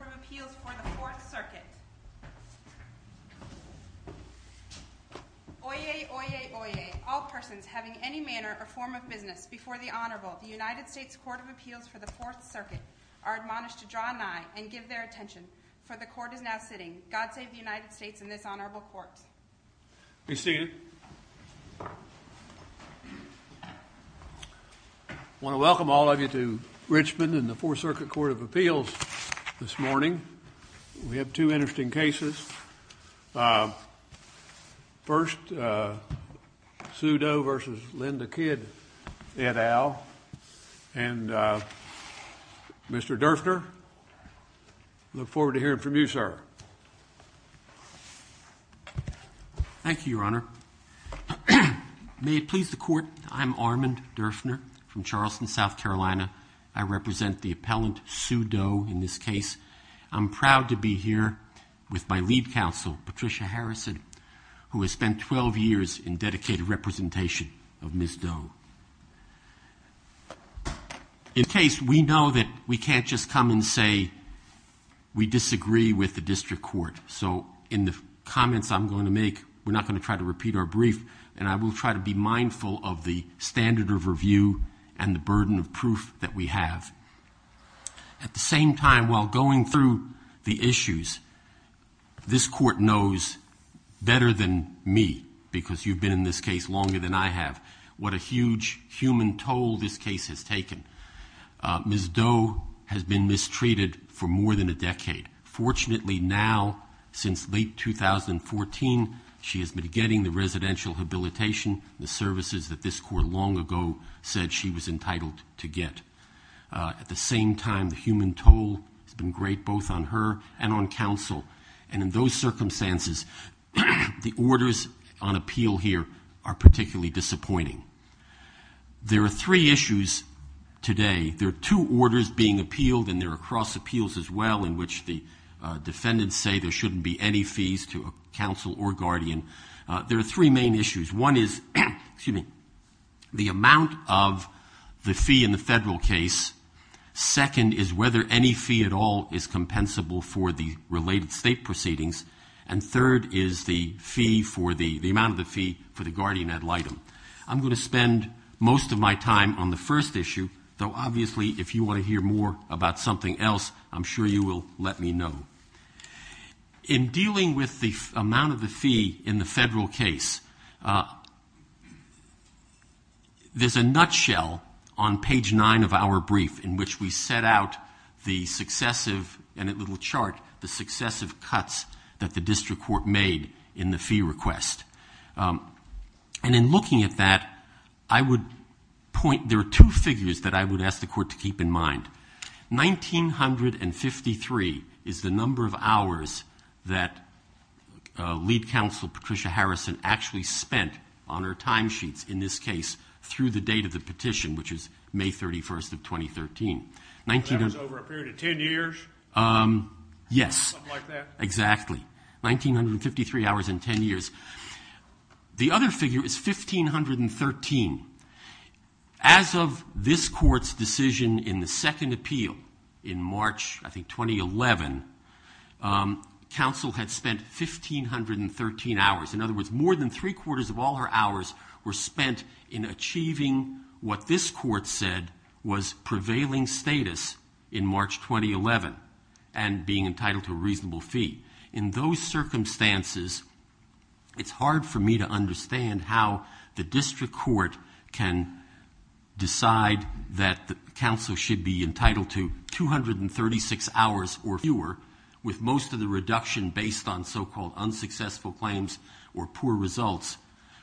U.S. Court of Appeals for the Fourth Circuit. Oyez, oyez, oyez, all persons having any manner or form of business before the Honorable, the United States Court of Appeals for the Fourth Circuit, are admonished to draw nigh and give their attention. For the Court is now sitting. God save the United States and this Honorable Court. Hey, Steve. I want to welcome all of you to Richmond and the Fourth Circuit Court of Appeals this morning. We have two interesting cases. First, Sue Doe v. Linda Kidd, et al. And Mr. Doe, I look forward to hearing from you, sir. Thank you, Your Honor. May it please the Court, I'm Armand Dershner from Charleston, South Carolina. I represent the appellant, Sue Doe, in this case. I'm proud to be here with my lead counsel, Patricia Harrison, who has spent 12 years in dedicated representation of Ms. Doe. In case we know that we can't just come and say we disagree with the district court, so in the comments I'm going to make, we're not going to try to repeat our brief, and I will try to be mindful of the standard of review and the burden of proof that we have. At the same time, while going through the issues, this court knows better than me, because you've been in this case longer than I have, what a huge human toll this case has taken. Ms. Doe has been mistreated for more than a decade. Fortunately now, since late 2014, she has been getting the residential habilitation, the services that this court long ago said she was entitled to get. At the same time, the human toll has been great both on her and on counsel, and in those circumstances, the orders on appeal here are particularly disappointing. There are three issues today. There are two orders being appealed, and there are cross appeals as well, in which the defendants say there shouldn't be any fees to counsel or guardian. There are three main issues. One is the amount of the fee in the federal case. Second is whether any fee at all is compensable for the related state proceedings. And third is the amount of the fee for the guardian ad litem. I'm going to spend most of my time on the first issue, though obviously if you want to hear more about something else, I'm sure you will let me know. In dealing with the amount of fee, there are two figures that I would ask the court to keep in mind. 1953 is the number of hours that lead counsel Patricia Harrison actually spent on her timesheets in this case through the date of the petition, which is May 31st of 2013. That was over a period of 10 years? Yes. Something like that? Exactly. 1953 hours in 10 years. The other figure is 1513. As of this court's decision in the second appeal in March, I think, 2011, counsel had spent 1513 hours. In other words, more than three quarters of all her hours were spent in achieving what this court said was prevailing status in March 2011 and being entitled to a reasonable fee. In those circumstances, it's hard for me to understand how the district court can decide that counsel should be entitled to 236 hours or fewer with most of the reduction based on so-called unsuccessful claims or poor results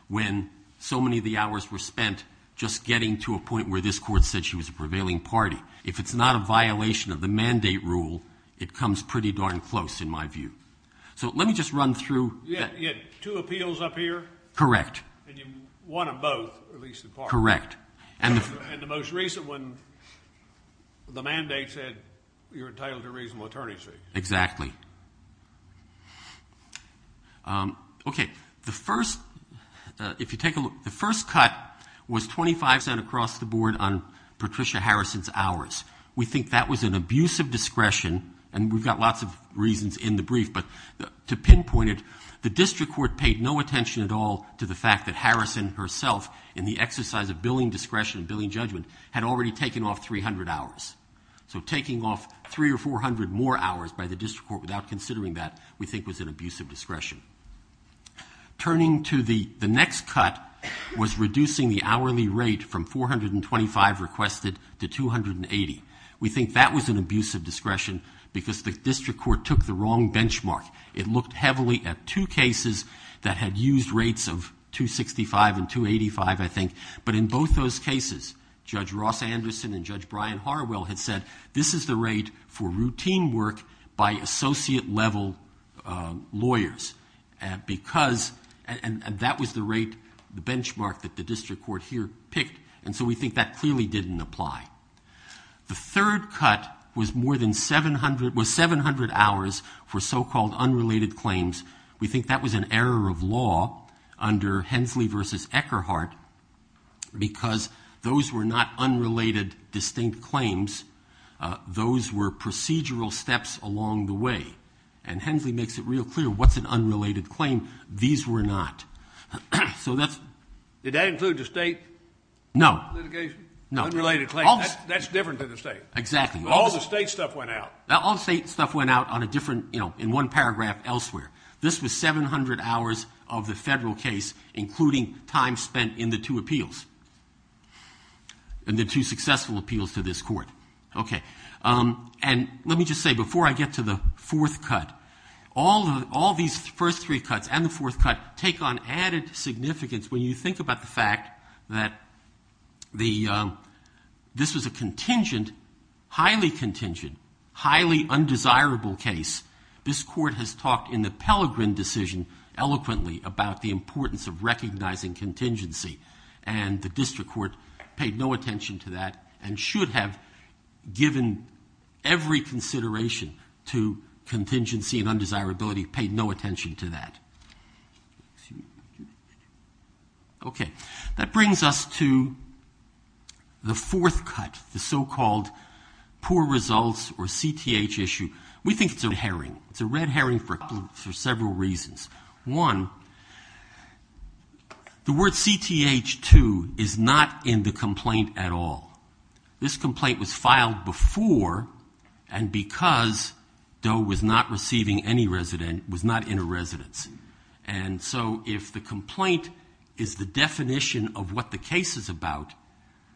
when so many of the hours were spent just getting to a point where this court said she was a prevailing party. If it's not a violation of the mandate rule, it comes pretty darn close in my view. So let me just run through. You had two appeals up here? Correct. And you won them both, at least in part. Correct. And the most recent one, the mandate said you were entitled to a reasonable attorney's fee. Exactly. Okay. The first, if you take a look, the first cut was 25 cent across the board on Patricia Harrison's hours. We think that was an abuse of discretion, and we've got lots of reasons in the brief, but to pinpoint it, the district court paid no attention at all to the fact that Harrison herself, in the exercise of billing discretion, billing judgment, had already taken off 300 hours. So taking off 300 or 400 more hours by the district court without considering that, we think, was an abuse of discretion. Turning to the next cut was reducing the hourly rate from 425 requested to 280. We think that was an abuse of discretion because the district court took the wrong benchmark. It looked heavily at two cases that had used rates of 265 and 285, I think, but in both those cases, Judge Ross Anderson and Judge Brian Harwell had said, this is the rate for routine work by associate-level lawyers, and that was the rate, the benchmark that the district court here picked, and so we think that clearly didn't apply. The third cut was 700 hours for so-called unrelated claims. We think that was an error of law under Hensley v. Eckerhart because those were not unrelated, distinct claims. Those were procedural steps along the way, and Hensley makes it real clear what's an unrelated claim. These were not. So that's... Did that include the state litigation? No. Unrelated claims. That's different to the state. Exactly. All the state stuff went out. All the state stuff went out in one paragraph elsewhere. This was 700 hours of the federal case, including time spent in the two appeals, in the two successful appeals to this court. Okay. And let me just say, before I get to the fourth cut, all these first three cuts and the fourth cut take on added significance when you think about the fact that this is a contingent, highly contingent, highly undesirable case. This court has talked in the Pelegrin decision eloquently about the importance of recognizing contingency, and the district court paid no attention to that and should have given every consideration to contingency and undesirability, paid no attention to that. Okay. That brings us to the fourth cut, the so-called poor results or CTH issue. We think it's a red herring. It's a red herring for several reasons. One, the word CTH2 is not in the complaint at all. This complaint was filed before and because Doe was not receiving any resident, was not in a residency. And so if the complaint is the definition of what the case is about,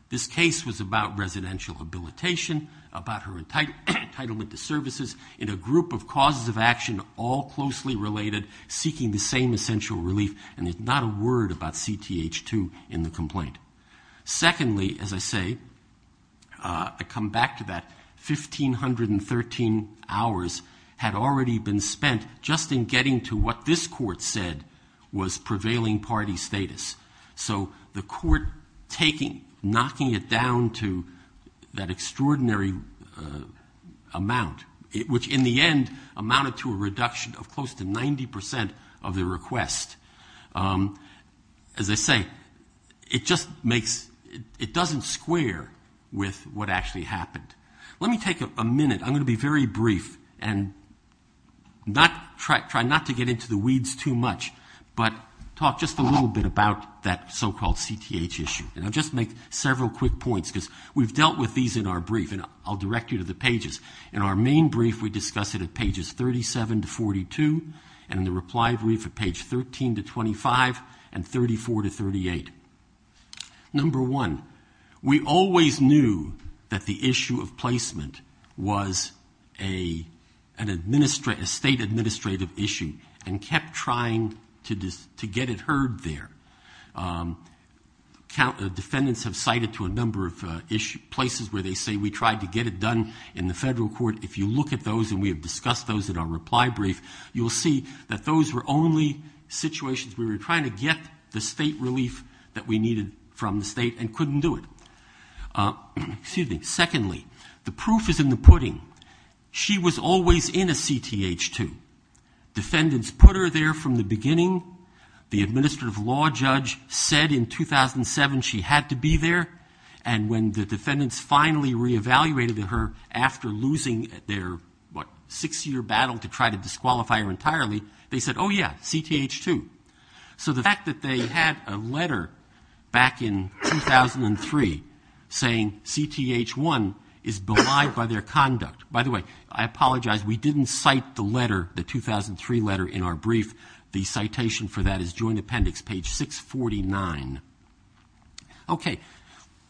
this case was about residential habilitation, about her entitlement to services in a group of causes of action all closely related, seeking the same essential relief, and there's not a word about CTH2 in the complaint. Secondly, as I say, I come back to that, 1513 hours had already been spent just in getting to what this court said was prevailing party status. So the court knocking it down to that extraordinary amount, which in the end amounted to a reduction of close to 90% of the request. As I say, it doesn't square with what actually happened. And I'm going to be very brief and try not to get into the weeds too much, but talk just a little bit about that so-called CTH issue. And I'll just make several quick points because we've dealt with these in our brief, and I'll direct you to the pages. In our main brief, we discuss it at pages 37 to 42, and in the reply brief at page 13 to 25 and 34 to 38. Number one, we always knew that the issue of placement was a state administrative issue and kept trying to get it heard there. Defendants have cited to a number of places where they say we tried to get it done in the federal court. If you look at those, and we have discussed those in our reply brief, you'll see that those were only situations where we were trying to get the state relief that we needed from the state and couldn't do it. Secondly, the proof is in the pudding. She was always in a CTH2. Defendants put her there from the beginning. The administrative law judge said in 2007 she had to be there. And when the defendants finally re-evaluated her after losing their, what, six-year battle to try to disqualify her entirely, they said, oh, yeah, CTH2. So the fact that they had a letter back in 2003 saying CTH1 is belied by their conduct. By the way, I apologize. We didn't cite the letter, the 2003 letter in our brief. The citation for that is Joint Appendix, page 649. Okay.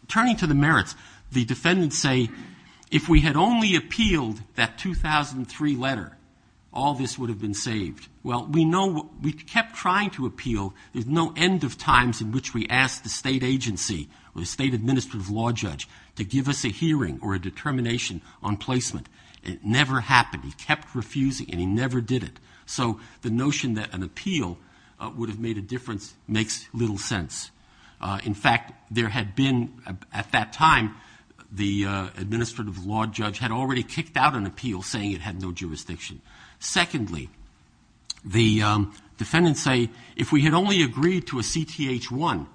Turning to the merits, the defendants say if we had only appealed that 2003 letter, all this would have been saved. Well, we know we kept trying to appeal. There's no end of times in which we asked the state agency or the state administrative law judge to give us a hearing or a determination on placement. It never happened. He kept refusing, and he never did it. So the notion that an appeal would have made a difference makes little sense. In fact, there had been at that time the administrative law judge had already kicked out an appeal saying it had no jurisdiction. Secondly, the defendants say if we had only agreed to a CTH1,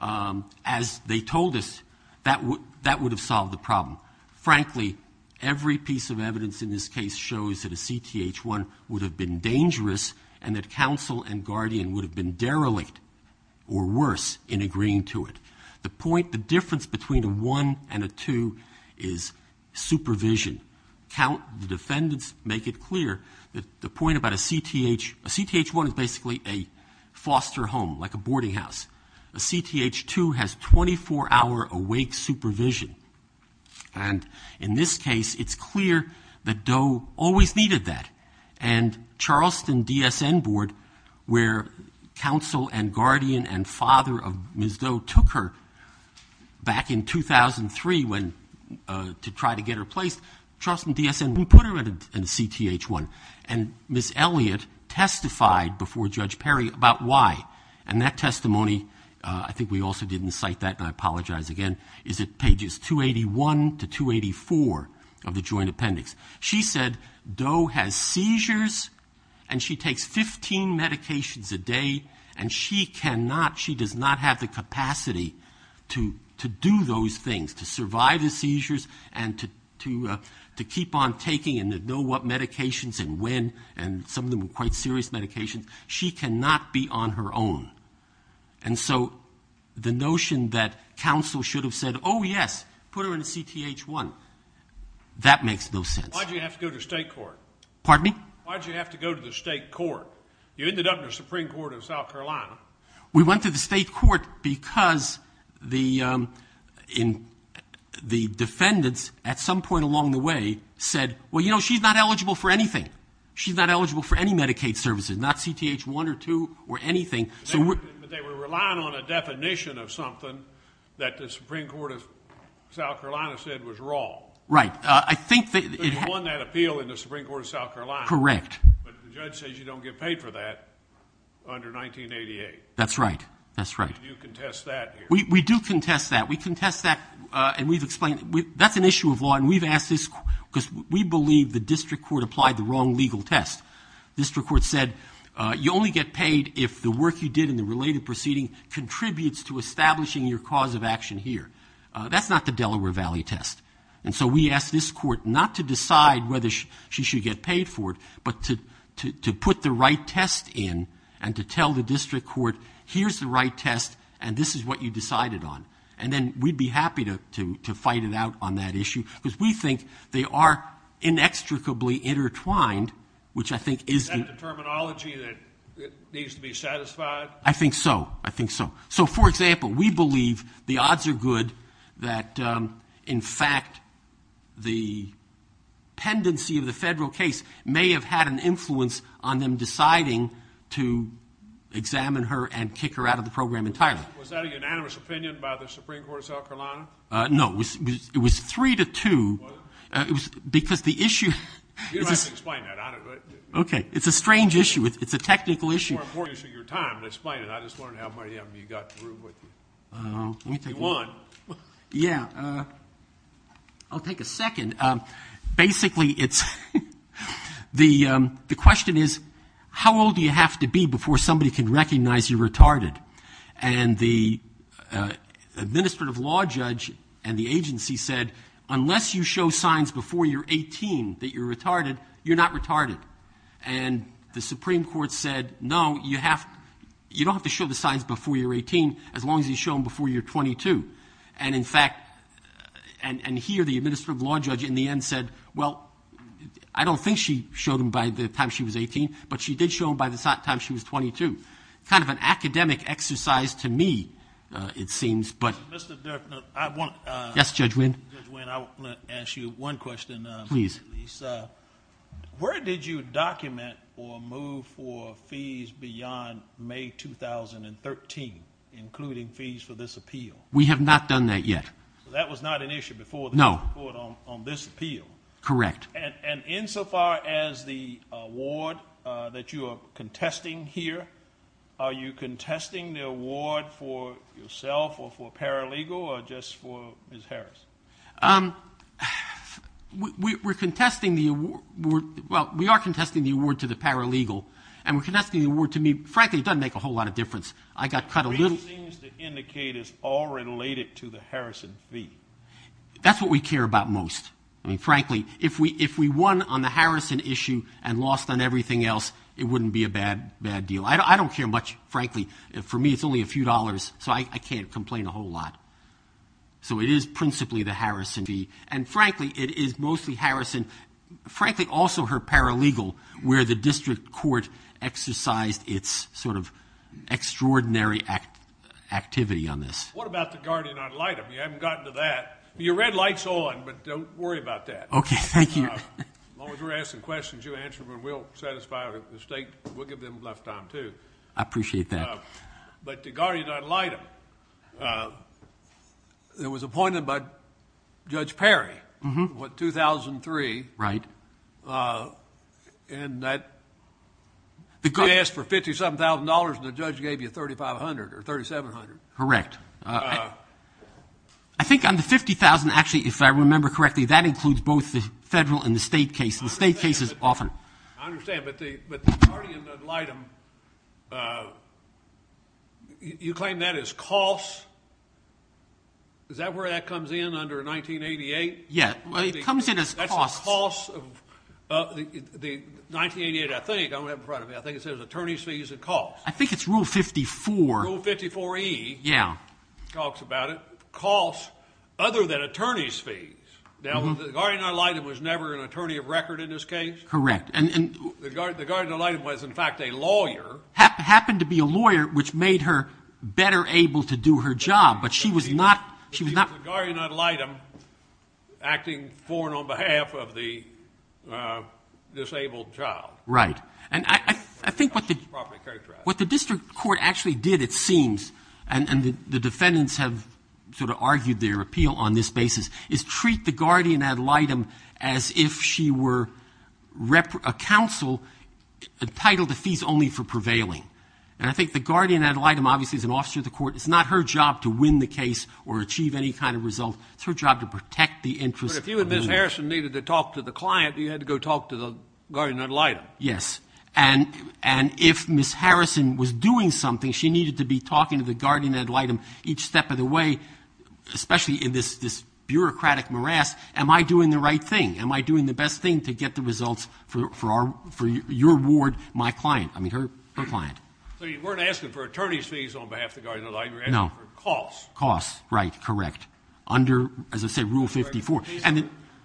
as they told us, that would have solved the problem. Frankly, every piece of evidence in this case shows that a CTH1 would have been dangerous and that counsel and guardian would have been derelict or worse in agreeing to it. The point, the difference between a 1 and a 2 is supervision. The defendants make it clear that the point about a CTH1 is basically a foster home, like a boarding house. A CTH2 has 24-hour awake supervision. And in this case, it's clear that Doe always needed that. And Charleston DSN Board, where counsel and guardian and father of Ms. Doe took her back in 2003 to try to get her placed, Charleston DSN put her in a CTH1. And Ms. Elliott testified before Judge Perry about why. And that testimony, I think we also didn't cite that, and I apologize again, is at pages 281 to 284 of the joint appendix. She said Doe has seizures and she takes 15 medications a day, and she does not have the capacity to do those things, to survive the seizures and to keep on taking and to know what medications and when, and some of them are quite serious medications. She cannot be on her own. And so the notion that counsel should have said, oh, yes, put her in a CTH1, that makes no sense. Why did you have to go to the state court? Pardon me? Why did you have to go to the state court? You ended up in the Supreme Court of South Carolina. We went to the state court because the defendants at some point along the way said, well, you know, she's not eligible for anything. She's not eligible for any Medicaid services, not CTH1 or 2 or anything. They were relying on a definition of something that the Supreme Court of South Carolina said was wrong. Right. There's one that appealed in the Supreme Court of South Carolina. Correct. But the judge says you don't get paid for that under 1988. That's right. That's right. You contest that here. We do contest that. That's an issue of law, and we've asked this because we believe the district court applied the wrong legal test. The district court said you only get paid if the work you did in the related proceeding contributes to establishing your cause of action here. That's not the Delaware Valley test. And so we asked this court not to decide whether she should get paid for it, but to put the right test in and to tell the district court, here's the right test, and this is what you decided on. And then we'd be happy to fight it out on that issue, because we think they are inextricably intertwined, which I think is the... Is that the terminology that needs to be satisfied? I think so. I think so. So, for example, we believe the odds are good that, in fact, the pendency of the federal case may have had an influence on them deciding to examine her and kick her out of the program entirely. Was that a unanimous opinion by the Supreme Court of South Carolina? No. It was three to two, because the issue... You don't have to explain that on it, but... Okay. It's a strange issue. It's a technical issue. It's more important than your time. Explain it. I just wanted to have my hand. You got through, but... You won. Yeah. I'll take a second. Basically, the question is, how old do you have to be before somebody can recognize you're retarded? And the administrative law judge and the agency said, unless you show signs before you're 18 that you're retarded, you're not retarded. And the Supreme Court said, no, you don't have to show the signs before you're 18, as long as you show them before you're 22. And, in fact, and here the administrative law judge in the end said, well, I don't think she showed them by the time she was 18, but she did show them by the time she was 22. Kind of an academic exercise to me, it seems, but... Mr. Deffner, I want... Yes, Judge Winn. Judge Winn, I want to ask you one question. Please. Where did you document or move for fees beyond May 2013, including fees for this appeal? We have not done that yet. So that was not an issue before the Supreme Court on this appeal? No. Correct. And insofar as the award that you are contesting here, are you contesting the award for yourself or for paralegal or just for Ms. Harris? We're contesting the award... well, we are contesting the award to the paralegal. And we're contesting the award to me... frankly, it doesn't make a whole lot of difference. But it seems to indicate it's all related to the Harrison fee. That's what we care about most. I mean, frankly, if we won on the Harrison issue and lost on everything else, it wouldn't be a bad deal. I don't care much, frankly. For me, it's only a few dollars, so I can't complain a whole lot. So it is principally the Harrison fee. And frankly, it is mostly Harrison. Frankly, also her paralegal, where the district court exercised its sort of extraordinary activity on this. What about the guardian ad litem? You haven't gotten to that. Your red light's on, but don't worry about that. Okay, thank you. As long as we're asking questions, you answer them, and we'll satisfy the state. We'll give them left time, too. I appreciate that. But the guardian ad litem, it was appointed by Judge Perry in 2003. Right. And that... They could have asked for $57,000, and the judge gave you $3,500 or $3,700. Correct. I think on the $50,000, actually, if I remember correctly, that includes both the federal and the state cases. The state cases often... I understand, but the guardian ad litem, you claim that as costs. Is that where that comes in, under 1988? Yes, it comes in as costs. That's the costs of 1988, I think. I don't have it in front of me. I think it says attorney's fees and costs. I think it's Rule 54. Rule 54E. Yeah. Talks about it. Costs other than attorney's fees. Now, the guardian ad litem was never an attorney of record in this case? Correct. The guardian ad litem was, in fact, a lawyer. Happened to be a lawyer, which made her better able to do her job, but she was not... She was the guardian ad litem acting for and on behalf of the disabled child. Right. And I think what the district court actually did, it seems, and the defendants have sort of argued their appeal on this basis, is treat the guardian ad litem as if she were a counsel entitled to fees only for prevailing. And I think the guardian ad litem, obviously, is an officer of the court. It's not her job to win the case or achieve any kind of result. It's her job to protect the interest... But if you and Ms. Harrison needed to talk to the client, you had to go talk to the guardian ad litem. Yes. And if Ms. Harrison was doing something, she needed to be talking to the guardian ad litem each step of the way, especially in this bureaucratic morass, am I doing the right thing? Am I doing the best thing to get the results for your ward, my client? I mean, her client. So you weren't asking for attorney's fees on behalf of the guardian ad litem. No. You were asking for costs. Costs. Right. Correct. Under, as I said, Rule 54.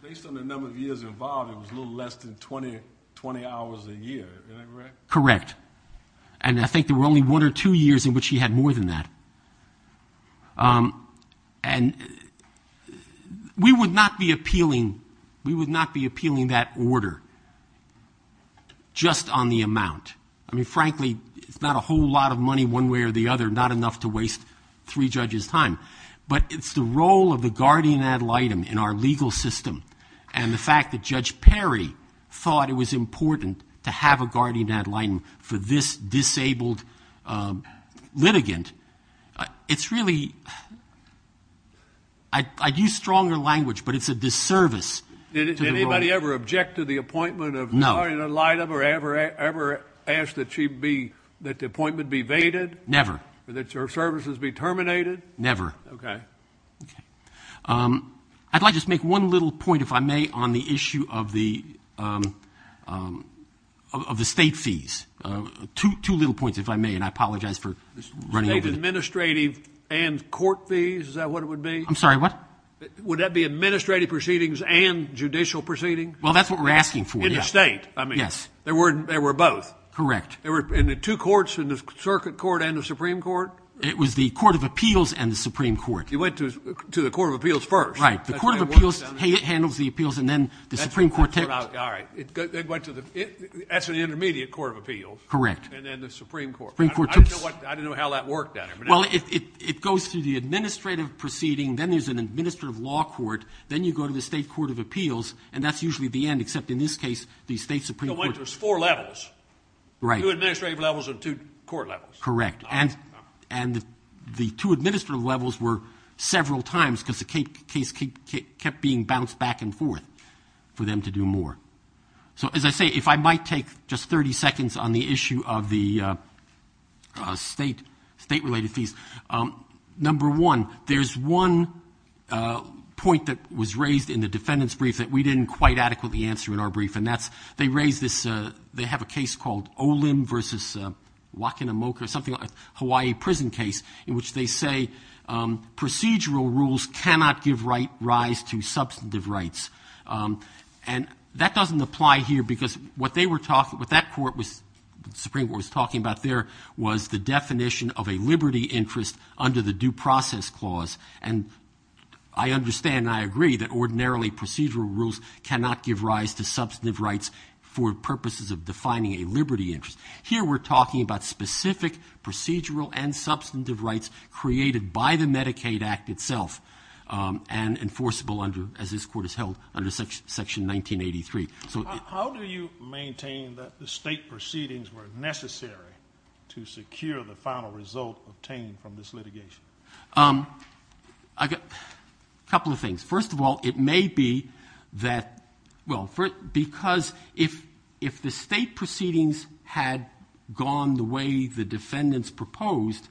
Based on the number of years involved, it was a little less than 20 hours a year. Is that right? Correct. And I think there were only one or two years in which he had more than that. And we would not be appealing that order just on the amount. I mean, frankly, it's not a whole lot of money one way or the other, not enough to waste three judges' time. But it's the role of the guardian ad litem in our legal system and the fact that Judge Perry thought it was important to have a guardian ad litem for this disabled litigant, it's really ‑‑ I use stronger language, but it's a disservice. Did anybody ever object to the appointment of the guardian ad litem or ever ask that the appointment be evaded? Never. That your services be terminated? Never. Okay. I'd like to make one little point, if I may, on the issue of the state fees. Two little points, if I may, and I apologize for running over them. Administrative and court fees, is that what it would be? I'm sorry, what? Would that be administrative proceedings and judicial proceedings? Well, that's what we're asking for, yes. In the state, I mean. Yes. There were both. Correct. In the two courts, in the circuit court and the Supreme Court? It was the Court of Appeals and the Supreme Court. It went to the Court of Appeals first. Right. The Court of Appeals handles the appeals, and then the Supreme Court takes it. All right. It went to the intermediate Court of Appeals. Correct. And then the Supreme Court. I don't know how that worked then. Well, it goes through the administrative proceeding, then there's an administrative law court, then you go to the state court of appeals, and that's usually the end, except in this case, the state Supreme Court. There's four levels. Right. Two administrative levels and two court levels. Correct. And the two administrative levels were several times because the case kept being bounced back and forth for them to do more. So, as I say, if I might take just 30 seconds on the issue of the state-related fees, number one, there's one point that was raised in the defendant's brief that we didn't quite adequately answer in our brief, and that's they have a case called Olin v. Wakanamoku, something like a Hawaii prison case, in which they say procedural rules cannot give rise to substantive rights. And that doesn't apply here because what that Supreme Court was talking about there was the definition of a liberty interest under the due process clause. And I understand and I agree that ordinarily procedural rules cannot give rise to substantive rights for purposes of defining a liberty interest. Here we're talking about specific procedural and substantive rights created by the Medicaid Act itself and enforceable as this court has held under Section 1983. How do you maintain that the state proceedings were necessary to secure the final result obtained from this litigation? A couple of things. First of all, it may be that, well, because if the state proceedings had gone the way the defendants proposed,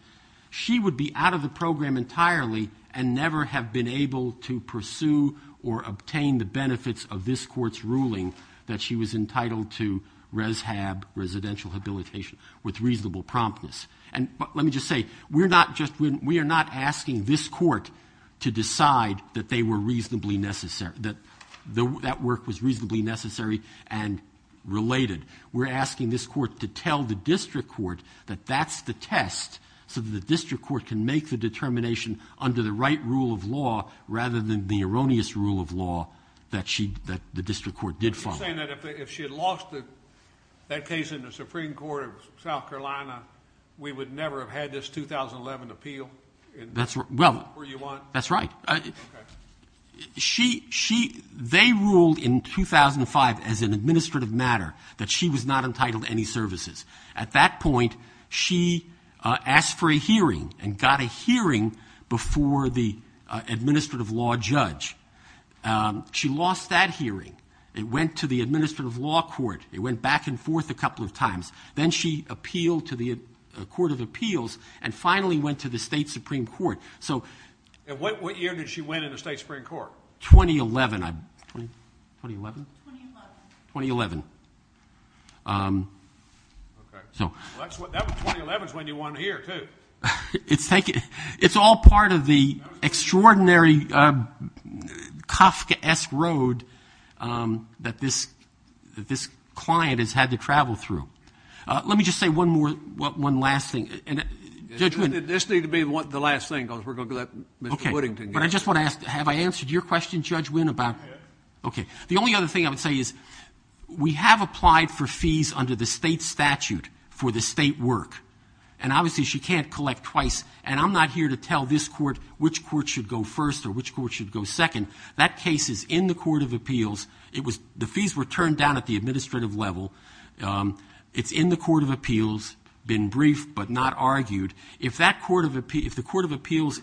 she would be out of the program entirely and never have been able to pursue or obtain the benefits of this court's ruling that she was entitled to res hab, residential habilitation, with reasonable promptness. But let me just say, we are not asking this court to decide that they were reasonably necessary, that that work was reasonably necessary and related. We're asking this court to tell the district court that that's the test so that the district court can make the determination under the right rule of law rather than the erroneous rule of law that the district court did follow. You're saying that if she had lost that case in the Supreme Court of South Carolina, we would never have had this 2011 appeal? That's right. They ruled in 2005 as an administrative matter that she was not entitled to any services. At that point, she asked for a hearing and got a hearing before the administrative law judge. She lost that hearing and went to the administrative law court. They went back and forth a couple of times. Then she appealed to the Court of Appeals and finally went to the state Supreme Court. And what year did she win in the state Supreme Court? 2011. 2011? 2011. That was 2011 is when you won here, too. It's all part of the extraordinary Koska-esque road that this client has had to travel through. Let me just say one last thing. This needs to be the last thing because we're going to go to Mr. Whittington. Okay. But I just want to ask, have I answered your question, Judge Wynn? Okay. The only other thing I would say is we have applied for fees under the state statute for the state work. And obviously she can't collect twice. And I'm not here to tell this court which court should go first or which court should go second. That case is in the Court of Appeals. The fees were turned down at the administrative level. It's in the Court of Appeals, been briefed but not argued. If the state Court of Appeals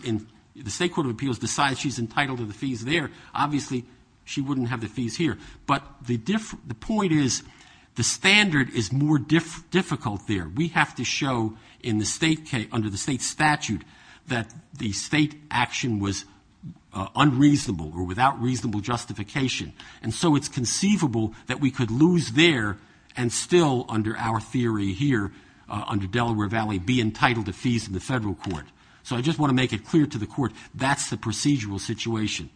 decides she's entitled to the fees there, obviously she wouldn't have the fees here. But the point is the standard is more difficult there. We have to show under the state statute that the state action was unreasonable or without reasonable justification. And so it's conceivable that we could lose there and still, under our theory here, under Delaware Valley, be entitled to fees in the federal court. So I just want to make it clear to the court that's the procedural situation.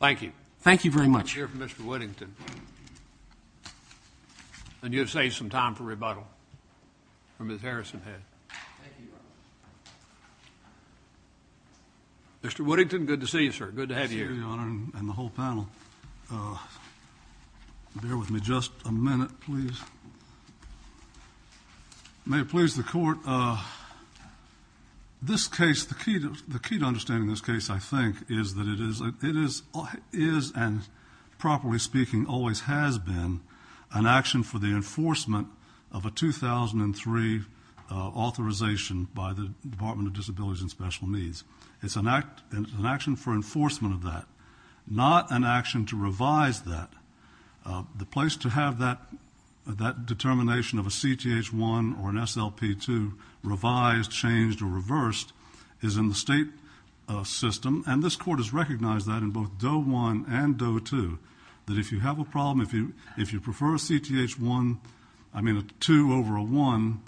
Thank you. Thank you very much. I'd like to hear from Mr. Whittington. And you have saved some time for rebuttal from his Harrison head. Thank you. Mr. Whittington, good to see you, sir. Good to have you here. Your Honor and the whole panel, bear with me just a minute, please. May it please the court, this case, the key to understanding this case, I think, is that it is and properly speaking always has been an action for the enforcement of a 2003 authorization by the Department of Disability and Special Needs. It's an action for enforcement of that, not an action to revise that. The place to have that determination of a CTH-1 or an SLP-2 revised, changed, or reversed is in the state system. And this Court has recognized that in both Doe-1 and Doe-2, that if you have a problem, if you prefer a CTH-1, I mean a 2 over a 1,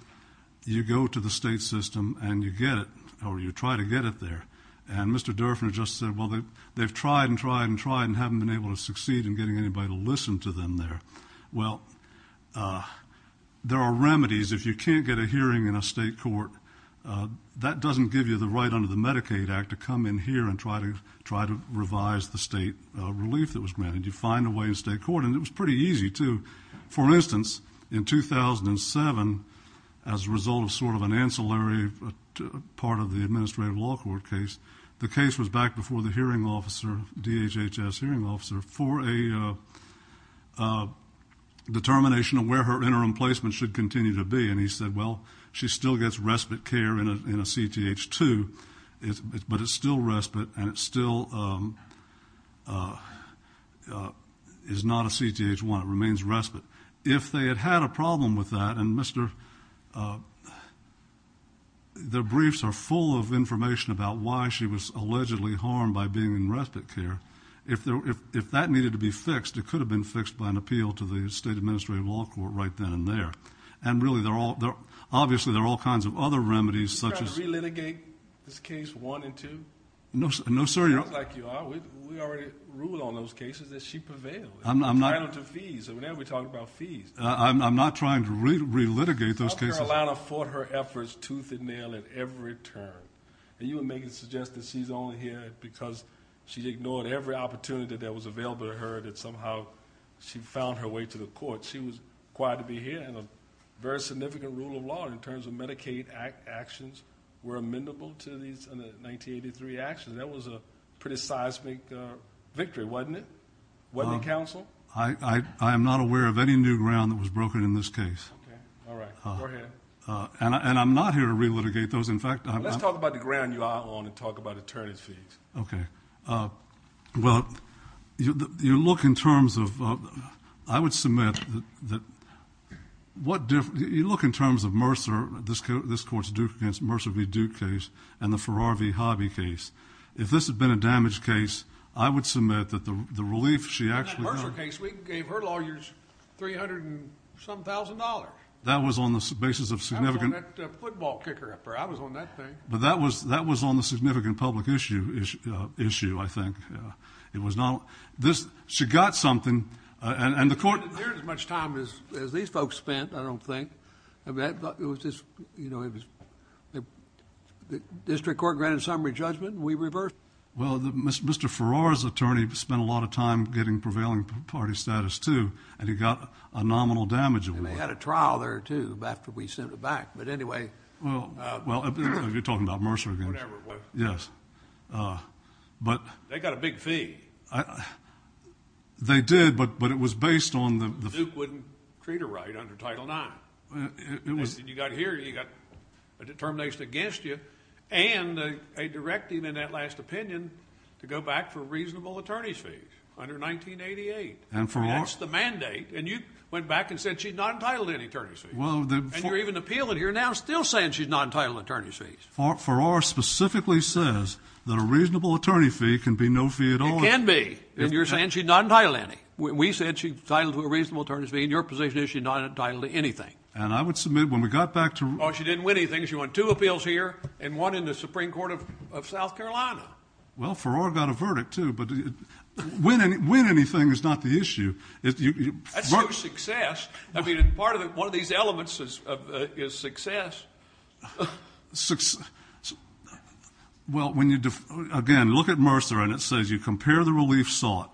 you go to the state system and you get it or you try to get it there. And Mr. Durfner just said, well, they've tried and tried and tried and haven't been able to succeed in getting anybody to listen to them there. Well, there are remedies. If you can't get a hearing in a state court, that doesn't give you the right under the Medicaid Act to come in here and try to revise the state relief that was granted. You find a way in state court, and it was pretty easy, too. For instance, in 2007, as a result of sort of an ancillary part of the administrative law court case, the case was back before the hearing officer, DHHS hearing officer, for a determination of where her interim placement should continue to be. And he said, well, she still gets respite care in a CTH-2, but it's still respite and it still is not a CTH-1. It remains respite. If they had had a problem with that, and their briefs are full of information about why she was allegedly harmed by being in respite care, if that needed to be fixed, it could have been fixed by an appeal to the state administrative law court right then and there. And really, obviously, there are all kinds of other remedies. Did you try to re-litigate this case one and two? No, sir. You look like you are. We already ruled on those cases that she prevailed. I'm not trying to re-litigate those cases. North Carolina fought her efforts tooth and nail at every turn. And you were making suggestions she's only here because she ignored every opportunity that was available to her that somehow she found her way to the court. She was required to be here and a very significant rule of law in terms of Medicaid actions were amenable to these 1983 actions. That was a pretty seismic victory, wasn't it? Wasn't it, counsel? I am not aware of any new ground that was broken in this case. All right. Go ahead. And I'm not here to re-litigate those. Let's talk about the ground you outlawed and talk about eternity. Okay. Well, you look in terms of, I would submit that, you look in terms of Mercer, this court's Duke v. Duke case and the Ferrari v. Hobby case. If this had been a damaged case, I would submit that the relief she actually got. In that Mercer case, we gave her lawyers 300 and some thousand dollars. That was on the basis of significant. I was on that football kicker affair. I was on that thing. But that was on the significant public issue, I think. It was not. She got something. And the court. There isn't as much time as these folks spent, I don't think. The district court granted summary judgment and we reversed it. Well, Mr. Ferrari's attorney spent a lot of time getting prevailing party status, too, and he got a nominal damage. And they had a trial there, too, after we sent it back. But anyway. Well, you're talking about Mercer again. Whatever it was. Yes. They got a big fee. They did, but it was based on the. Duke wouldn't treat her right under Title IX. And you got here, you got a determination against you and a directing in that last opinion to go back for reasonable attorney fees under 1988. And Ferrari. That's the mandate. And you went back and said she's not entitled to any attorney fees. And you're even appealing here now still saying she's not entitled to attorney fees. Ferrari specifically says that a reasonable attorney fee can be no fee at all. It can be. And you're saying she's not entitled to any. We said she's entitled to a reasonable attorney fee. In your position, she's not entitled to anything. And I would submit when we got back to... Oh, she didn't win anything. She won two appeals here and one in the Supreme Court of South Carolina. Well, Ferrari got a verdict, too, but winning anything is not the issue. That's not success. I mean, part of it, one of these elements is success. Well, when you... Again, look at Mercer, and it says you compare the relief sought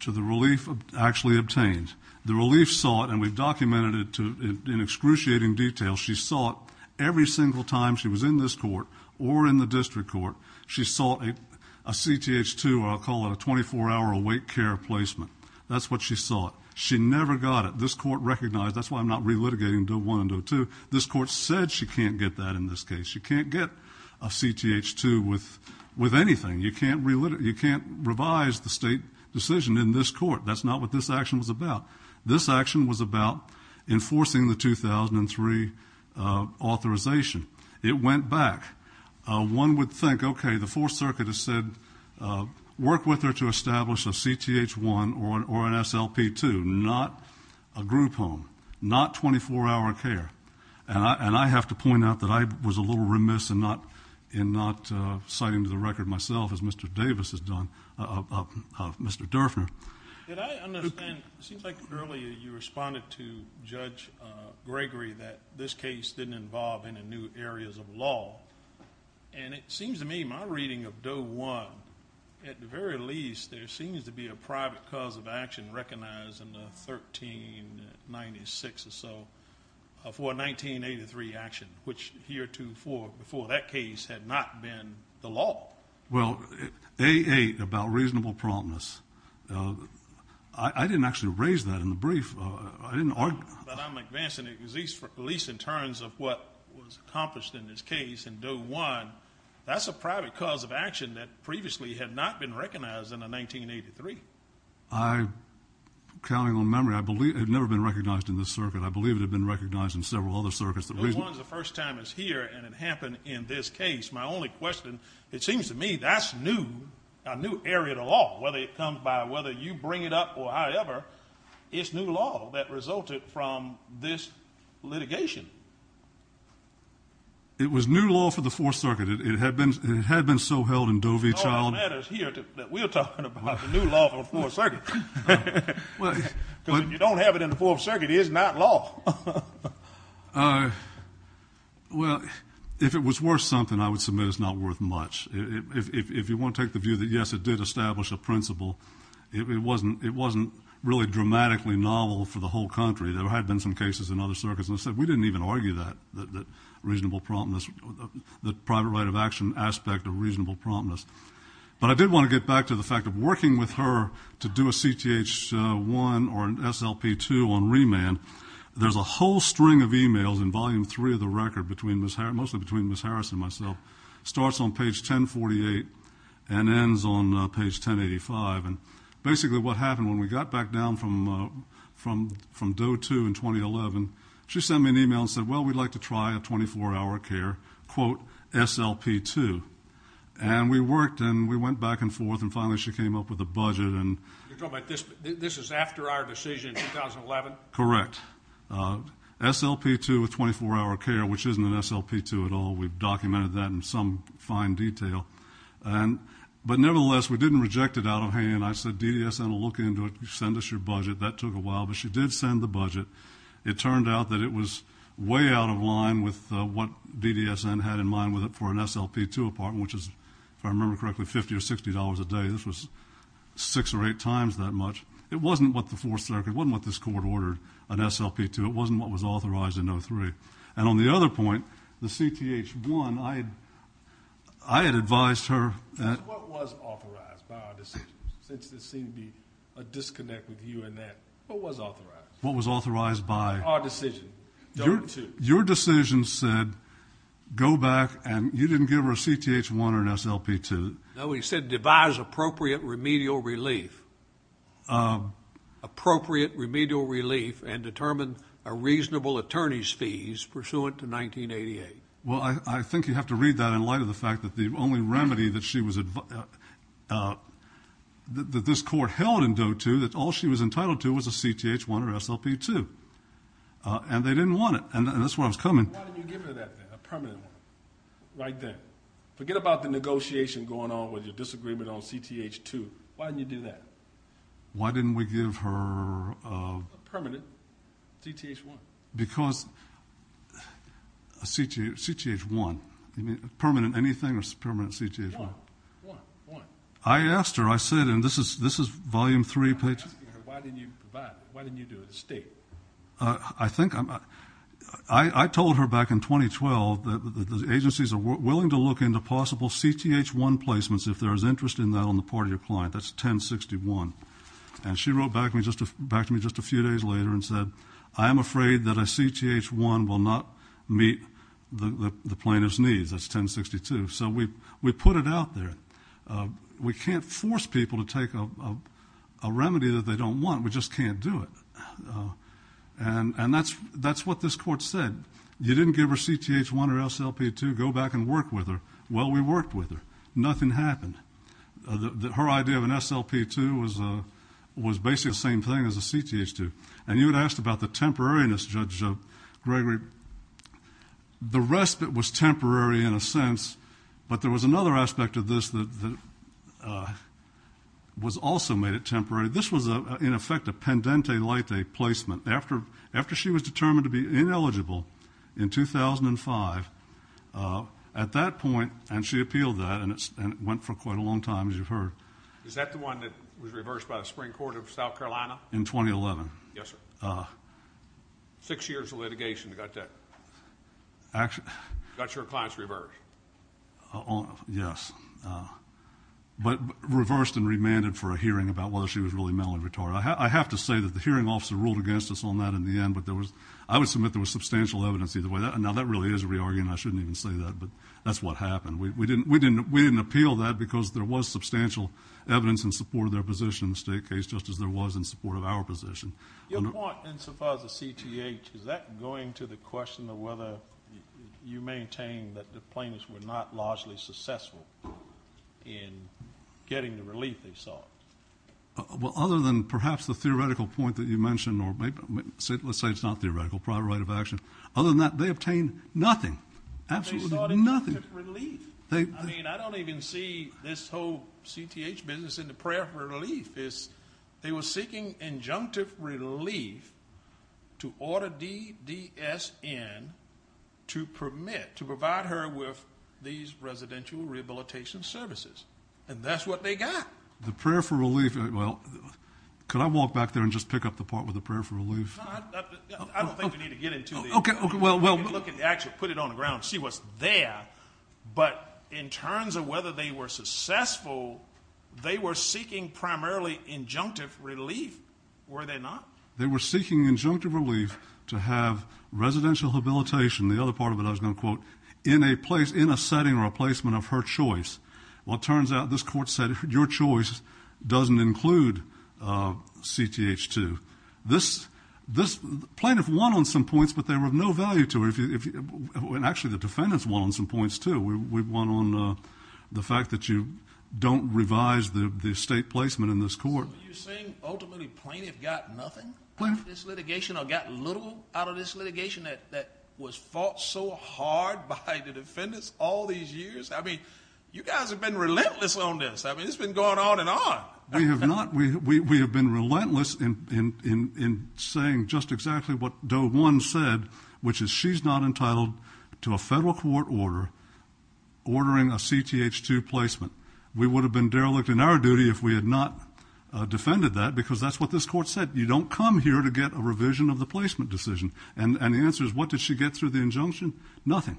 to the relief actually obtained. The relief sought, and we've documented it in excruciating detail, she sought every single time she was in this court or in the district court, she sought a CTH-2, or I'll call it a 24-hour await care placement. That's what she sought. She never got it. This court recognized... That's why I'm not re-litigating 0-1 and 0-2. This court said she can't get that in this case. She can't get a CTH-2 with anything. You can't revise the state decision in this court. That's not what this action was about. This action was about enforcing the 2003 authorization. It went back. One would think, okay, the Fourth Circuit has said work with her to establish a CTH-1 or an SLP-2, not a group home, not 24-hour care. And I have to point out that I was a little remiss in not citing to the record myself, as Mr. Davis has done, Mr. Durfner. It seems like earlier you responded to Judge Gregory that this case didn't involve any new areas of law. And it seems to me my reading of Doe 1, at the very least, there seems to be a private cause of action recognized in 1396 or so for a 1983 action, which heretofore, before that case, had not been the law. Well, A-8, about reasonable promptness, I didn't actually raise that in the brief. But I'm advancing it, at least in terms of what was accomplished in this case in Doe 1. That's a private cause of action that previously had not been recognized in a 1983. I'm counting on memory. I believe it had never been recognized in this circuit. I believe it had been recognized in several other circuits. It was one of the first times here, and it happened in this case. My only question, it seems to me that's a new area of law, whether it comes by whether you bring it up or I ever. It's new law that resulted from this litigation. It was new law for the Fourth Circuit. It had been so held in Doe v. Child. All that matters here is that we're talking about the new law for the Fourth Circuit. Because if you don't have it in the Fourth Circuit, it is not law. Well, if it was worth something, I would submit it's not worth much. If you want to take the view that, yes, it did establish a principle, it wasn't really dramatically novel for the whole country. There had been some cases in other circuits, and I said we didn't even argue that reasonable promptness, the private right of action aspect of reasonable promptness. But I did want to get back to the fact of working with her to do a CTH-1 or an SLP-2 on remand. There's a whole string of e-mails in Volume 3 of the record, mostly between Ms. Harris and myself. It starts on page 1048 and ends on page 1085. Basically what happened when we got back down from Doe 2 in 2011, she sent me an e-mail and said, well, we'd like to try a 24-hour care, quote, SLP-2. And we worked and we went back and forth, and finally she came up with a budget. You're talking about this is after our decision in 2011? Correct. SLP-2 with 24-hour care, which isn't an SLP-2 at all. We've documented that in some fine detail. But nevertheless, we didn't reject it out of hand. I said DDSN will look into it. Send us your budget. That took a while, but she did send the budget. It turned out that it was way out of line with what DDSN had in mind for an SLP-2 apartment, which is, if I remember correctly, $50 or $60 a day. This was six or eight times that much. It wasn't what the Fourth Circuit, it wasn't what this court ordered, an SLP-2. It wasn't what was authorized in 03. And on the other point, the CTH-1, I had advised her that. What was authorized by our decision? It seemed to be a disconnect with you in that. What was authorized? What was authorized by? Our decision. Your decision said go back and you didn't give her a CTH-1 or an SLP-2. No, he said devise appropriate remedial relief. Appropriate remedial relief and determine a reasonable attorney's fees pursuant to 1988. Well, I think you have to read that in light of the fact that the only remedy that she was advised, that this court held in 02 that all she was entitled to was a CTH-1 or an SLP-2. And they didn't want it, and that's why I was coming. Why didn't you give her that then, a permanent one, right then? Forget about the negotiation going on with your disagreement on CTH-2. Why didn't you do that? Why didn't we give her? A permanent CTH-1. Because CTH-1, a permanent anything is a permanent CTH-1. One, one, one. I asked her. I said, and this is volume three. I'm asking her why didn't you do it, state. I think I'm not. I told her back in 2012 that the agencies are willing to look into possible CTH-1 placements if there is interest in that on the part of your client. That's 1061. And she wrote back to me just a few days later and said, I'm afraid that a CTH-1 will not meet the plaintiff's needs. That's 1062. So we put it out there. We can't force people to take a remedy that they don't want. We just can't do it. And that's what this court said. You didn't give her CTH-1 or SLP-2, go back and work with her. Well, we worked with her. Nothing happened. Her idea of an SLP-2 was basically the same thing as a CTH-2. And you had asked about the temporariness, Judge Gregory. The respite was temporary in a sense, but there was another aspect of this that was also made it temporary. This was, in effect, a pendente late placement. After she was determined to be ineligible in 2005, at that point, and she appealed that, and it went for quite a long time, as you've heard. Is that the one that was reversed by the Supreme Court of South Carolina? In 2011. Yes, sir. Six years of litigation to get that. Got your clients reversed. Yes. But reversed and remanded for a hearing about whether she was really mentally retarded. I have to say that the hearing officer ruled against us on that in the end, but I would submit there was substantial evidence either way. Now, that really is a re-argument. I shouldn't even say that, but that's what happened. We didn't appeal that because there was substantial evidence in support of their position in the state case, just as there was in support of our position. Your point in support of the CTH, is that going to the question of whether you maintain that the plaintiffs were not largely successful in getting the relief they sought? Well, other than perhaps the theoretical point that you mentioned, or let's say it's not theoretical, prior right of action. Other than that, they obtained nothing. They sought injunctive relief. I mean, I don't even see this whole CTH business in the prayer for relief. They were seeking injunctive relief to order DDSN to permit, to provide her with these residential rehabilitation services, and that's what they got. The prayer for relief, well, could I walk back there and just pick up the part with the prayer for relief? I don't think we need to get into that. Okay, well. We can actually put it on the ground and see what's there, but in terms of whether they were successful, they were seeking primarily injunctive relief, were they not? They were seeking injunctive relief to have residential rehabilitation, the other part of it I was going to quote, in a setting or a placement of her choice. Well, it turns out this court said your choice doesn't include CTH 2. This plaintiff won on some points, but they were of no value to her. Actually, the defendants won on some points, too. We won on the fact that you don't revise the estate placement in this court. You're saying ultimately plaintiff got nothing out of this litigation or got little out of this litigation that was fought so hard by the defendants all these years? I mean, you guys have been relentless on this. I mean, it's been going on and on. We have not. We have been relentless in saying just exactly what Doe 1 said, which is she's not entitled to a federal court order ordering a CTH 2 placement. We would have been derelict in our duty if we had not defended that because that's what this court said. You don't come here to get a revision of the placement decision. And the answer is what did she get through the injunction? Nothing.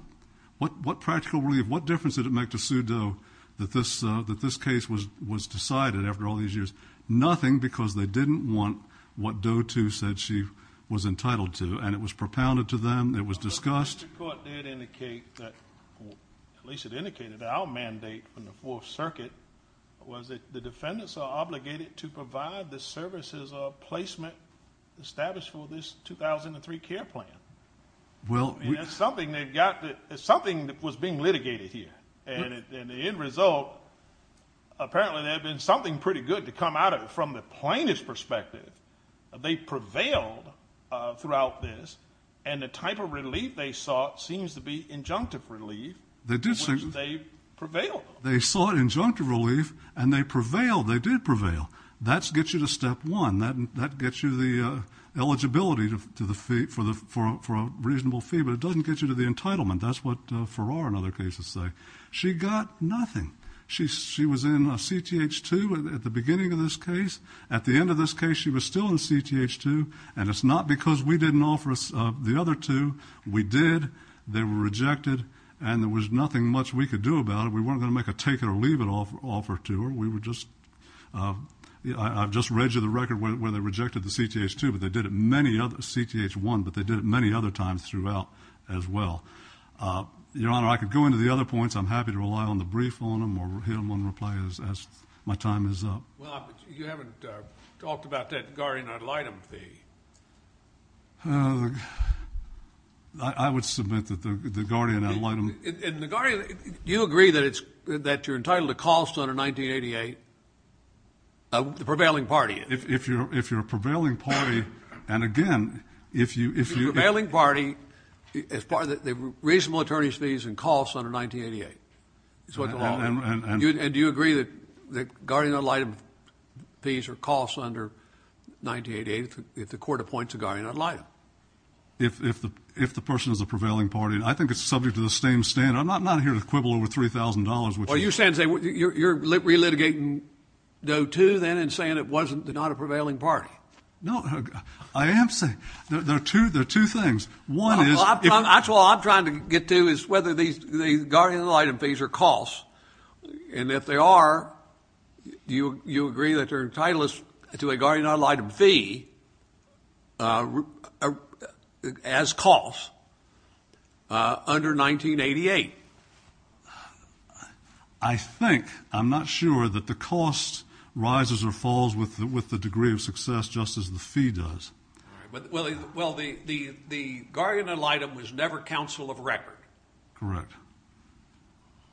What practical relief, what difference did it make to sue Doe that this case was decided after all these years? Nothing because they didn't want what Doe 2 said she was entitled to, and it was propounded to them. It was discussed. The court did indicate that, at least it indicated, that our mandate from the Fourth Circuit was that the defendants are obligated to provide the services of placement established for this 2003 care plan. And that's something that was being litigated here. And the end result, apparently there had been something pretty good to come out of it from the plaintiff's perspective. They prevailed throughout this, and the type of relief they sought seems to be injunctive relief in which they prevailed. They sought injunctive relief, and they prevailed. They did prevail. That gets you to step one. That gets you the eligibility for a reasonable fee, but it doesn't get you to the entitlement. That's what Farrar, in other cases, said. She got nothing. She was in CTH 2 at the beginning of this case. At the end of this case, she was still in CTH 2, and it's not because we didn't offer the other two. We did. They were rejected, and there was nothing much we could do about it. We weren't going to make a take-it-or-leave-it offer to her. I just read you the record where they rejected the CTH 2, but they did it many other times. They prevailed throughout as well. Your Honor, I could go into the other points. I'm happy to rely on the brief on them or hear one reply as my time is up. Well, you haven't talked about that Nagari and Adelaide fee. I would submit that the Nagari and Adelaide. And Nagari, do you agree that you're entitled to cost under 1988, the prevailing party is? If you're a prevailing party, and again, if you... The reasonable attorney's fees and costs under 1988. And do you agree that Nagari and Adelaide fees or costs under 1988 if the court appoints Nagari and Adelaide? If the person is a prevailing party. I think it's subject to the same standard. I'm not here to quibble over $3,000. Well, you're relitigating those two then and saying it wasn't, they're not a prevailing party. No, I am saying... Two things. One is... That's what I'm trying to get to is whether the Nagari and Adelaide fees are costs. And if they are, do you agree that you're entitled to a Nagari and Adelaide fee as costs under 1988? I think... I'm not sure that the cost rises or falls with the degree of success just as the fee does. Well, the Nagari and Adelaide was never counsel of record. Correct.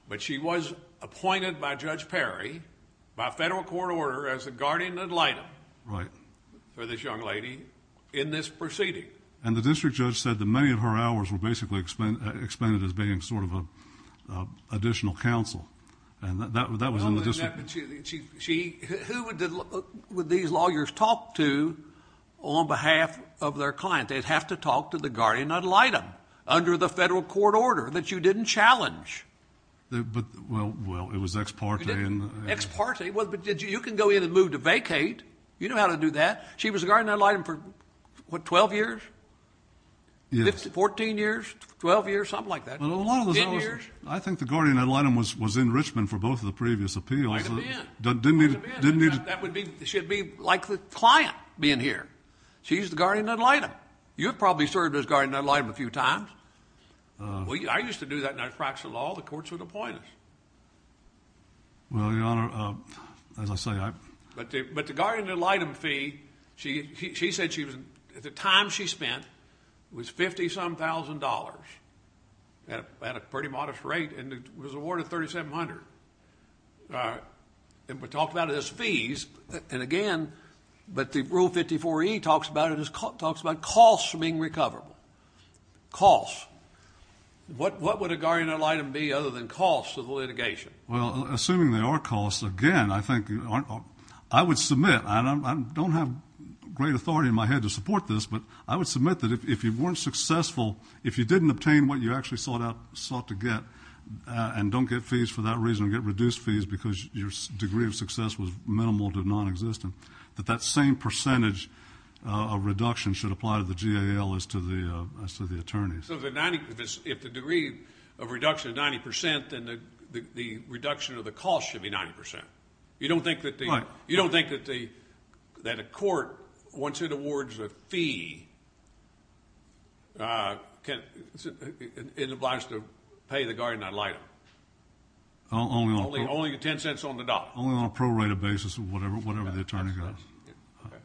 But she was appointed by Judge Perry by federal court order as a Nagari and Adelaide. Right. For this young lady in this proceeding. And the district judge said that many of her hours were basically expended as being sort of an additional counsel. And that was on the district. Who would these lawyers talk to on behalf of their client? They'd have to talk to the Nagari and Adelaide under the federal court order that you didn't challenge. Well, it was ex parte. Ex parte. Well, you can go in and move to vacate. You know how to do that. She was Nagari and Adelaide for, what, 12 years? Yeah. 14 years? 12 years? Something like that. I think the Nagari and Adelaide was in Richmond for both of the previous appeals. It should be like the client being here. She's the Nagari and Adelaide. You've probably served as Nagari and Adelaide a few times. I used to do that in my practice of law. The courts would appoint us. Well, Your Honor, as I say, I... And it was awarded $3,700. All right. And we're talking about it as fees. And again, but the Rule 54E talks about it as costs from being recovered. Costs. What would a Nagari and Adelaide be other than costs of litigation? Well, assuming they are costs, again, I think... I would submit, and I don't have great authority in my head to support this, but I would submit that if you weren't successful, if you didn't obtain what you actually sought to get and don't get fees for that reason and get reduced fees because your degree of success was minimal, did not exist, that that same percentage of reduction should apply to the GAL as to the attorneys. So if the degree of reduction is 90 percent, then the reduction of the cost should be 90 percent. You don't think that the... Right.... is obliged to pay the Guardian Adelaide? Only $0.10 on the dollar? Only on a prorated basis or whatever they're trying to get. Okay.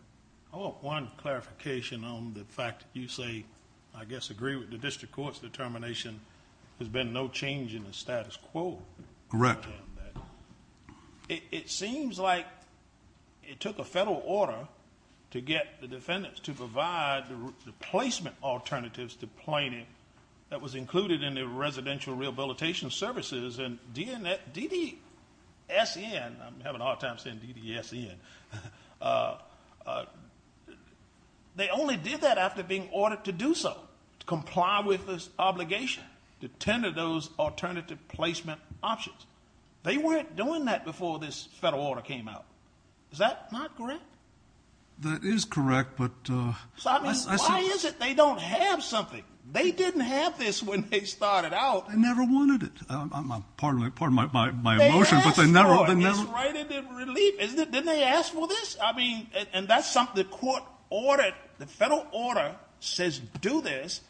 I want one clarification on the fact that you say, I guess, agree with the district court's determination there's been no change in the status quo. Correct. It seems like it took a federal order to get the defendants to provide the placement alternatives to planning that was included in the residential rehabilitation services and DDSN. I'm having a hard time saying DDSN. They only did that after being ordered to do so, to comply with this obligation to tender those alternative placement options. They weren't doing that before this federal order came out. Is that not correct? That is correct, but... I mean, why is it they don't have something? They didn't have this when it started out. They never wanted it. Pardon my emotion, but they never... They asked for it. It's right at their relief. Didn't they ask for this? I mean, and that's something the court ordered. The federal order says do this,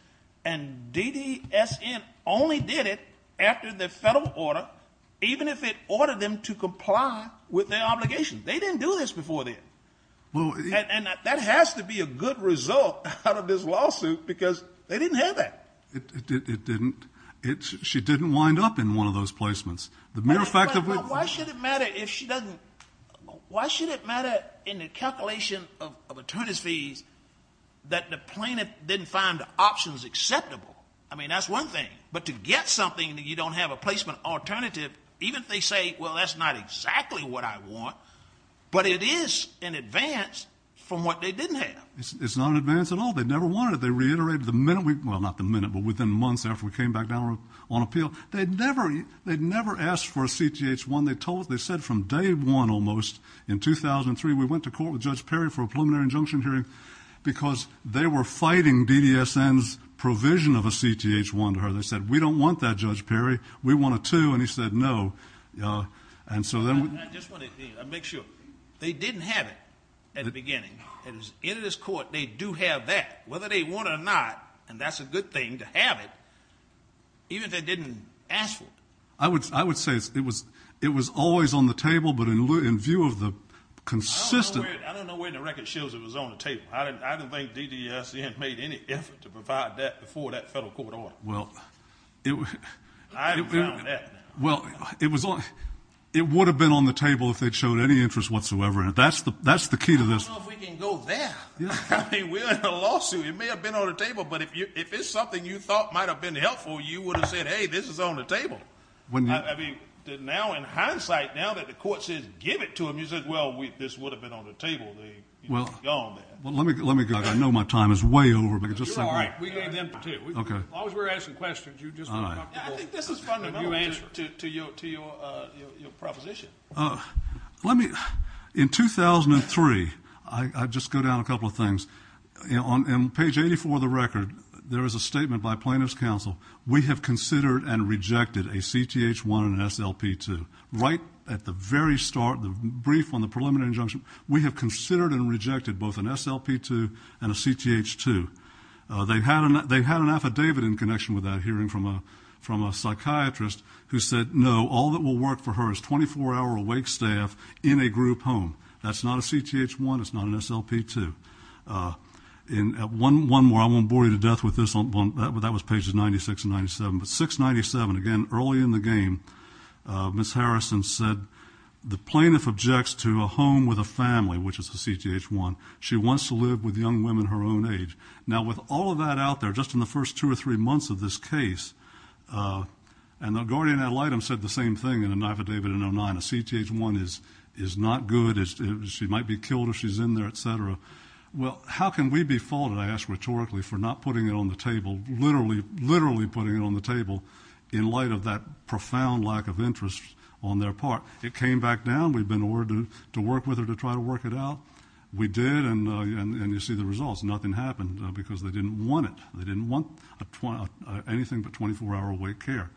and DDSN only did it after the federal order, even if it ordered them to comply with their obligation. They didn't do this before this, and that has to be a good result out of this lawsuit because they didn't have that. It didn't. She didn't wind up in one of those placements. Matter of fact... Why should it matter if she doesn't... Why should it matter in the calculation of attorneys fees that the plaintiff didn't find the options acceptable? I mean, that's one thing, but to get something that you don't have a placement alternative, even if they say, well, that's not exactly what I want, but it is an advance from what they didn't have. It's not an advance at all. They never wanted it. They reiterated the minute we... Well, not the minute, but within the month after we came back down on appeal. They never asked for a CTH-1. They said from day one almost, in 2003, we went to court with Judge Perry for a preliminary injunction hearing because they were fighting DDSN's provision of a CTH-1 to her. They said, we don't want that, Judge Perry. We want a 2, and he said no. And so then... I just want to make sure. They didn't have it at the beginning. In this court, they do have that, whether they want it or not, and that's a good thing to have it, even if they didn't ask for it. I would say it was always on the table, but in view of the consistency... I don't know where the record shows it was on the table. I don't think DDSN made any effort to provide that before that federal court order. I haven't found that. Well, it would have been on the table if they'd showed any interest whatsoever, and that's the key to this. I don't know if we can go there. I mean, we're in a lawsuit. It may have been on the table, but if it's something you thought might have been helpful, you would have said, hey, this is on the table. I mean, now in hindsight, now that the court says give it to them, you say, well, this would have been on the table. Well, let me go. I know my time is way over. You're right. Okay. As long as we're asking questions, you just... All right. I think this is fundamental to your proposition. Let me... In 2003, I just go down a couple of things. On page 84 of the record, there is a statement by Plaintiffs' Counsel, we have considered and rejected a CTH-1 and an SLP-2. Right at the very start, the brief on the preliminary injunction, we have considered and rejected both an SLP-2 and a CTH-2. They had an affidavit in connection with that hearing from a psychiatrist who said, no, all that will work for her is 24-hour awake staff in a group home. That's not a CTH-1. It's not an SLP-2. One more. I'm on board to death with this one. That was pages 96 and 97. But 697, again, early in the game, Ms. Harrison said the plaintiff objects to a home with a family, which is a CTH-1. She wants to live with young women her own age. Now, with all of that out there, just in the first two or three months of this case, and the guardian ad litem said the same thing in an affidavit in 09, a CTH-1 is not good, she might be killed if she's in there, et cetera. Well, how can we be faulted, I ask rhetorically, for not putting it on the table, literally putting it on the table in light of that profound lack of interest on their part? It came back down. We've been ordered to work with her to try to work it out. We did, and you see the results. Nothing happened because they didn't want it. They didn't want anything but 24-hour wait care.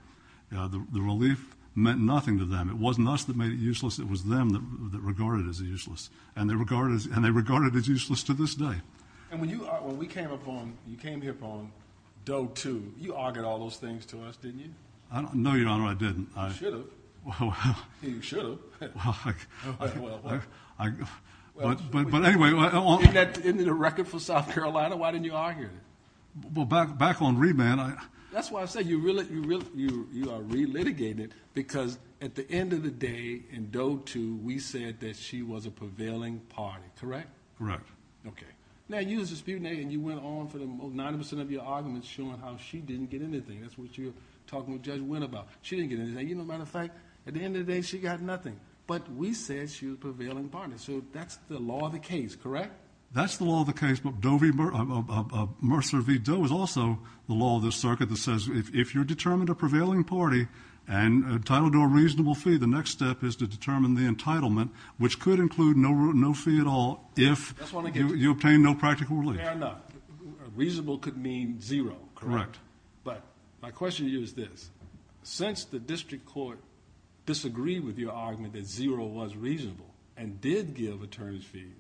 The relief meant nothing to them. It wasn't us that made it useless, it was them that regarded it as useless. And they regarded it as useless to this day. And when we came upon, you came upon DOE II, you augured all those things to us, didn't you? No, Your Honor, I didn't. You should have. You should have. Well, anyway. Isn't that a record for South Carolina? Why didn't you argue it? Well, back on remand. That's why I said you are relitigated because at the end of the day in DOE II, we said that she was a prevailing party, correct? Correct. Okay. Now, you as a student agent, you went on for 90% of your arguments showing how she didn't get anything. That's what you were talking to Judge Wynn about. She didn't get anything. As a matter of fact, at the end of the day, she got nothing. But we said she was a prevailing party. So that's the law of the case, correct? That's the law of the case. Mercer v. DOE is also the law of the circuit that says if you're determined a prevailing party and entitled to a reasonable fee, the next step is to determine the entitlement, which could include no fee at all if you obtain no practical relief. Fair enough. Reasonable could mean zero, correct? Correct. But my question to you is this. Since the district court disagreed with your argument that zero was reasonable and did give attorneys fees,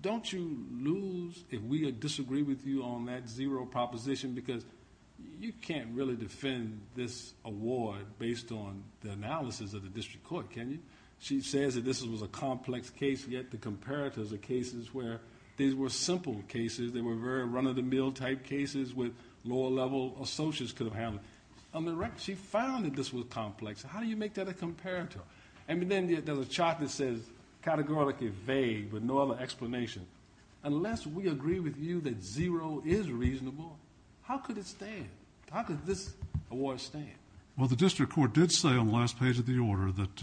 don't you lose if we disagree with you on that zero proposition because you can't really defend this award based on the analysis of the district court, can you? She says that this was a complex case, yet the comparatives of cases where these were simple cases, they were very run-of-the-mill type cases where lower-level associates could have had it. She found that this was complex. How do you make that a comparative? And then there's a chart that says categorically vague with no other explanation. Unless we agree with you that zero is reasonable, how could it stand? How could this award stand? Well, the district court did say on the last page of the order that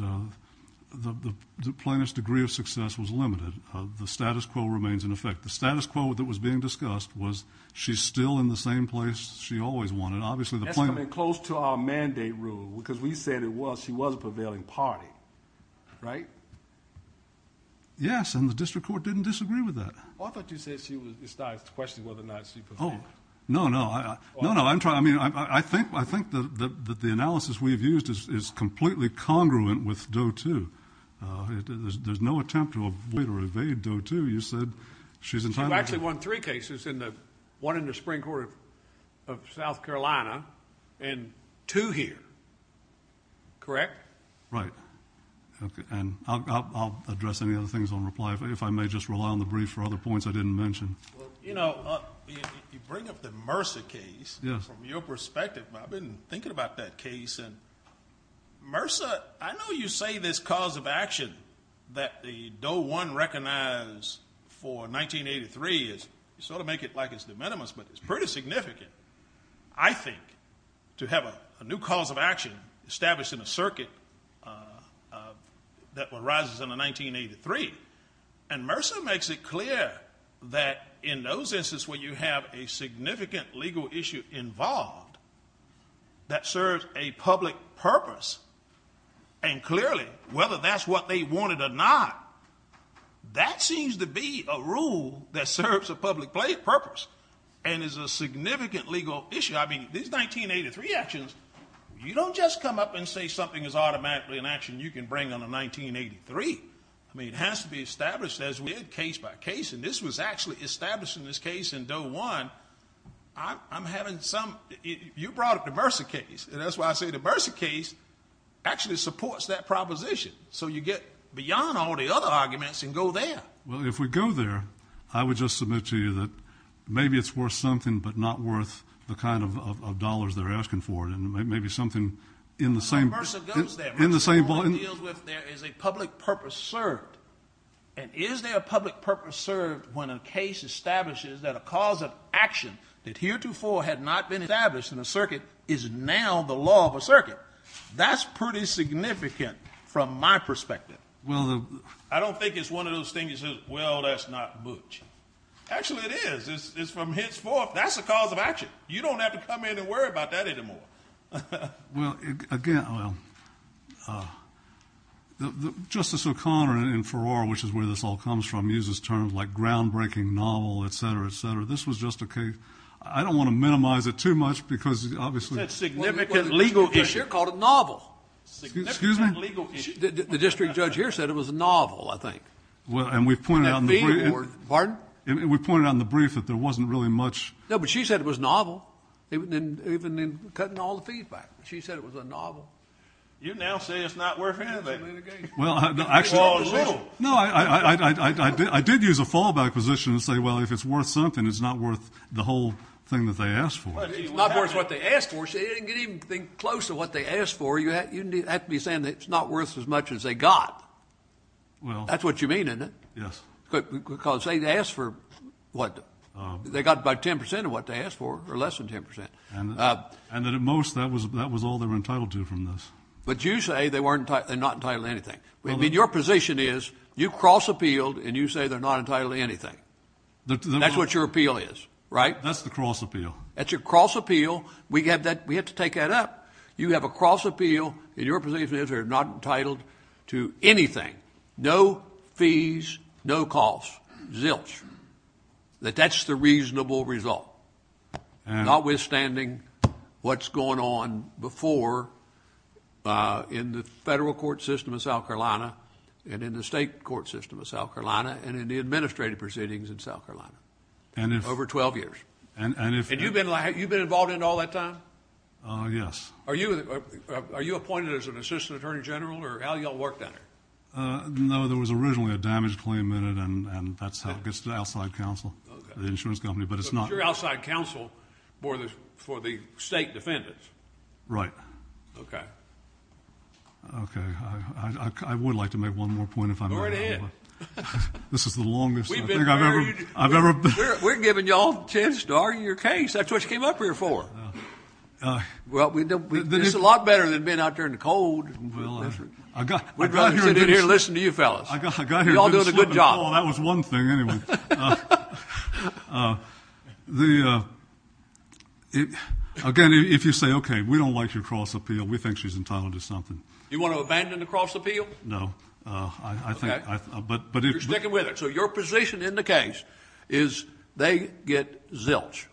the plaintiff's degree of success was limited. The status quo remains in effect. The status quo that was being discussed was she's still in the same place she always wanted. That's something close to our mandate rule because we said she was a prevailing party, right? Yes, and the district court didn't disagree with that. I thought you said she was a prevailing party. No, no. I think that the analysis we've used is completely congruent with Doe 2. There's no attempt to avoid or evade Doe 2. You said she's entitled to it. You actually won three cases, one in the Supreme Court of South Carolina and two here, correct? Right, and I'll address any other things on reply. If I may just rely on the brief for other points I didn't mention. You know, you bring up the Mercer case. Yes. From your perspective, I've been thinking about that case. Mercer, I know you say this cause of action that the Doe 1 recognized for 1983 is sort of making it like it's de minimis, but it's pretty significant, I think, to have a new cause of action established in a circuit that arises in 1983. And Mercer makes it clear that in those instances where you have a significant legal issue involved that serves a public purpose, and clearly whether that's what they wanted or not, that seems to be a rule that serves a public purpose and is a significant legal issue. I mean, these 1983 actions, you don't just come up and say something is automatically an action you can bring under 1983. I mean, it has to be established as we did case by case, and this was actually established in this case in Doe 1. I'm having some – you brought up the Mercer case, and that's why I say the Mercer case actually supports that proposition. So you get beyond all the other arguments and go there. Well, if we go there, I would just submit to you that maybe it's worth something but not worth the kind of dollars they're asking for, and maybe something in the same – But Mercer goes there. In the same – What he deals with there is a public purpose served. And is there a public purpose served when a case establishes that a cause of action that heretofore had not been established in a circuit is now the law of a circuit? That's pretty significant from my perspective. Well, I don't think it's one of those things that says, well, that's not butch. Actually, it is. It's from henceforth. That's a cause of action. You don't have to come in and worry about that anymore. Well, again, Justice O'Connor in Farrar, which is where this all comes from, uses terms like groundbreaking novel, et cetera, et cetera. This was just a case – I don't want to minimize it too much because obviously – That's a significant legal issue called a novel. Excuse me? The district judge here said it was a novel, I think. And we pointed out in the brief that there wasn't really much – No, but she said it was novel, even in cutting all the fees back. She said it was a novel. You now say it's not worth anything in the case. Well, actually – It falls a little. No, I did use a fallback position and say, well, if it's worth something, it's not worth the whole thing that they asked for. It's not worth what they asked for. See, it didn't get even close to what they asked for. You have to be saying that it's not worth as much as they got. Well – That's what you mean, isn't it? Yes. Because they asked for what? They got about 10 percent of what they asked for, or less than 10 percent. And that at most, that was all they were entitled to from this. But you say they weren't – they're not entitled to anything. I mean, your position is you cross-appealed and you say they're not entitled to anything. That's what your appeal is, right? That's the cross-appeal. That's your cross-appeal. We have to take that up. You have a cross-appeal, and your position is they're not entitled to anything. No fees, no cost. Zilch. That that's the reasonable result, notwithstanding what's going on before in the federal court system of South Carolina and in the state court system of South Carolina and in the administrative proceedings in South Carolina over 12 years. And if – And you've been involved in it all that time? Yes. Are you appointed as an assistant attorney general, or how do you all work that? No, there was originally a damage claim in it, and that's how it gets to the outside counsel, the insurance company. But it's not – But you're outside counsel for the state defendants. Right. Okay. Okay. I would like to make one more point if I may. Go right ahead. This is the longest I think I've ever – We've been very – I've ever been – We're giving you all a chance to argue your case. That's what you came up here for. Well, we – This is a lot better than being out there in the cold. Well, I got here – We're glad to get in here and listen to you fellas. I got here – You're all doing a good job. Well, that was one thing, anyway. The – again, if you say, okay, we don't like your cross-appeal, we think she's entitled to something. You want to abandon the cross-appeal? No. I think – Okay. You're sticking with it. So your position in the case is they get zilch.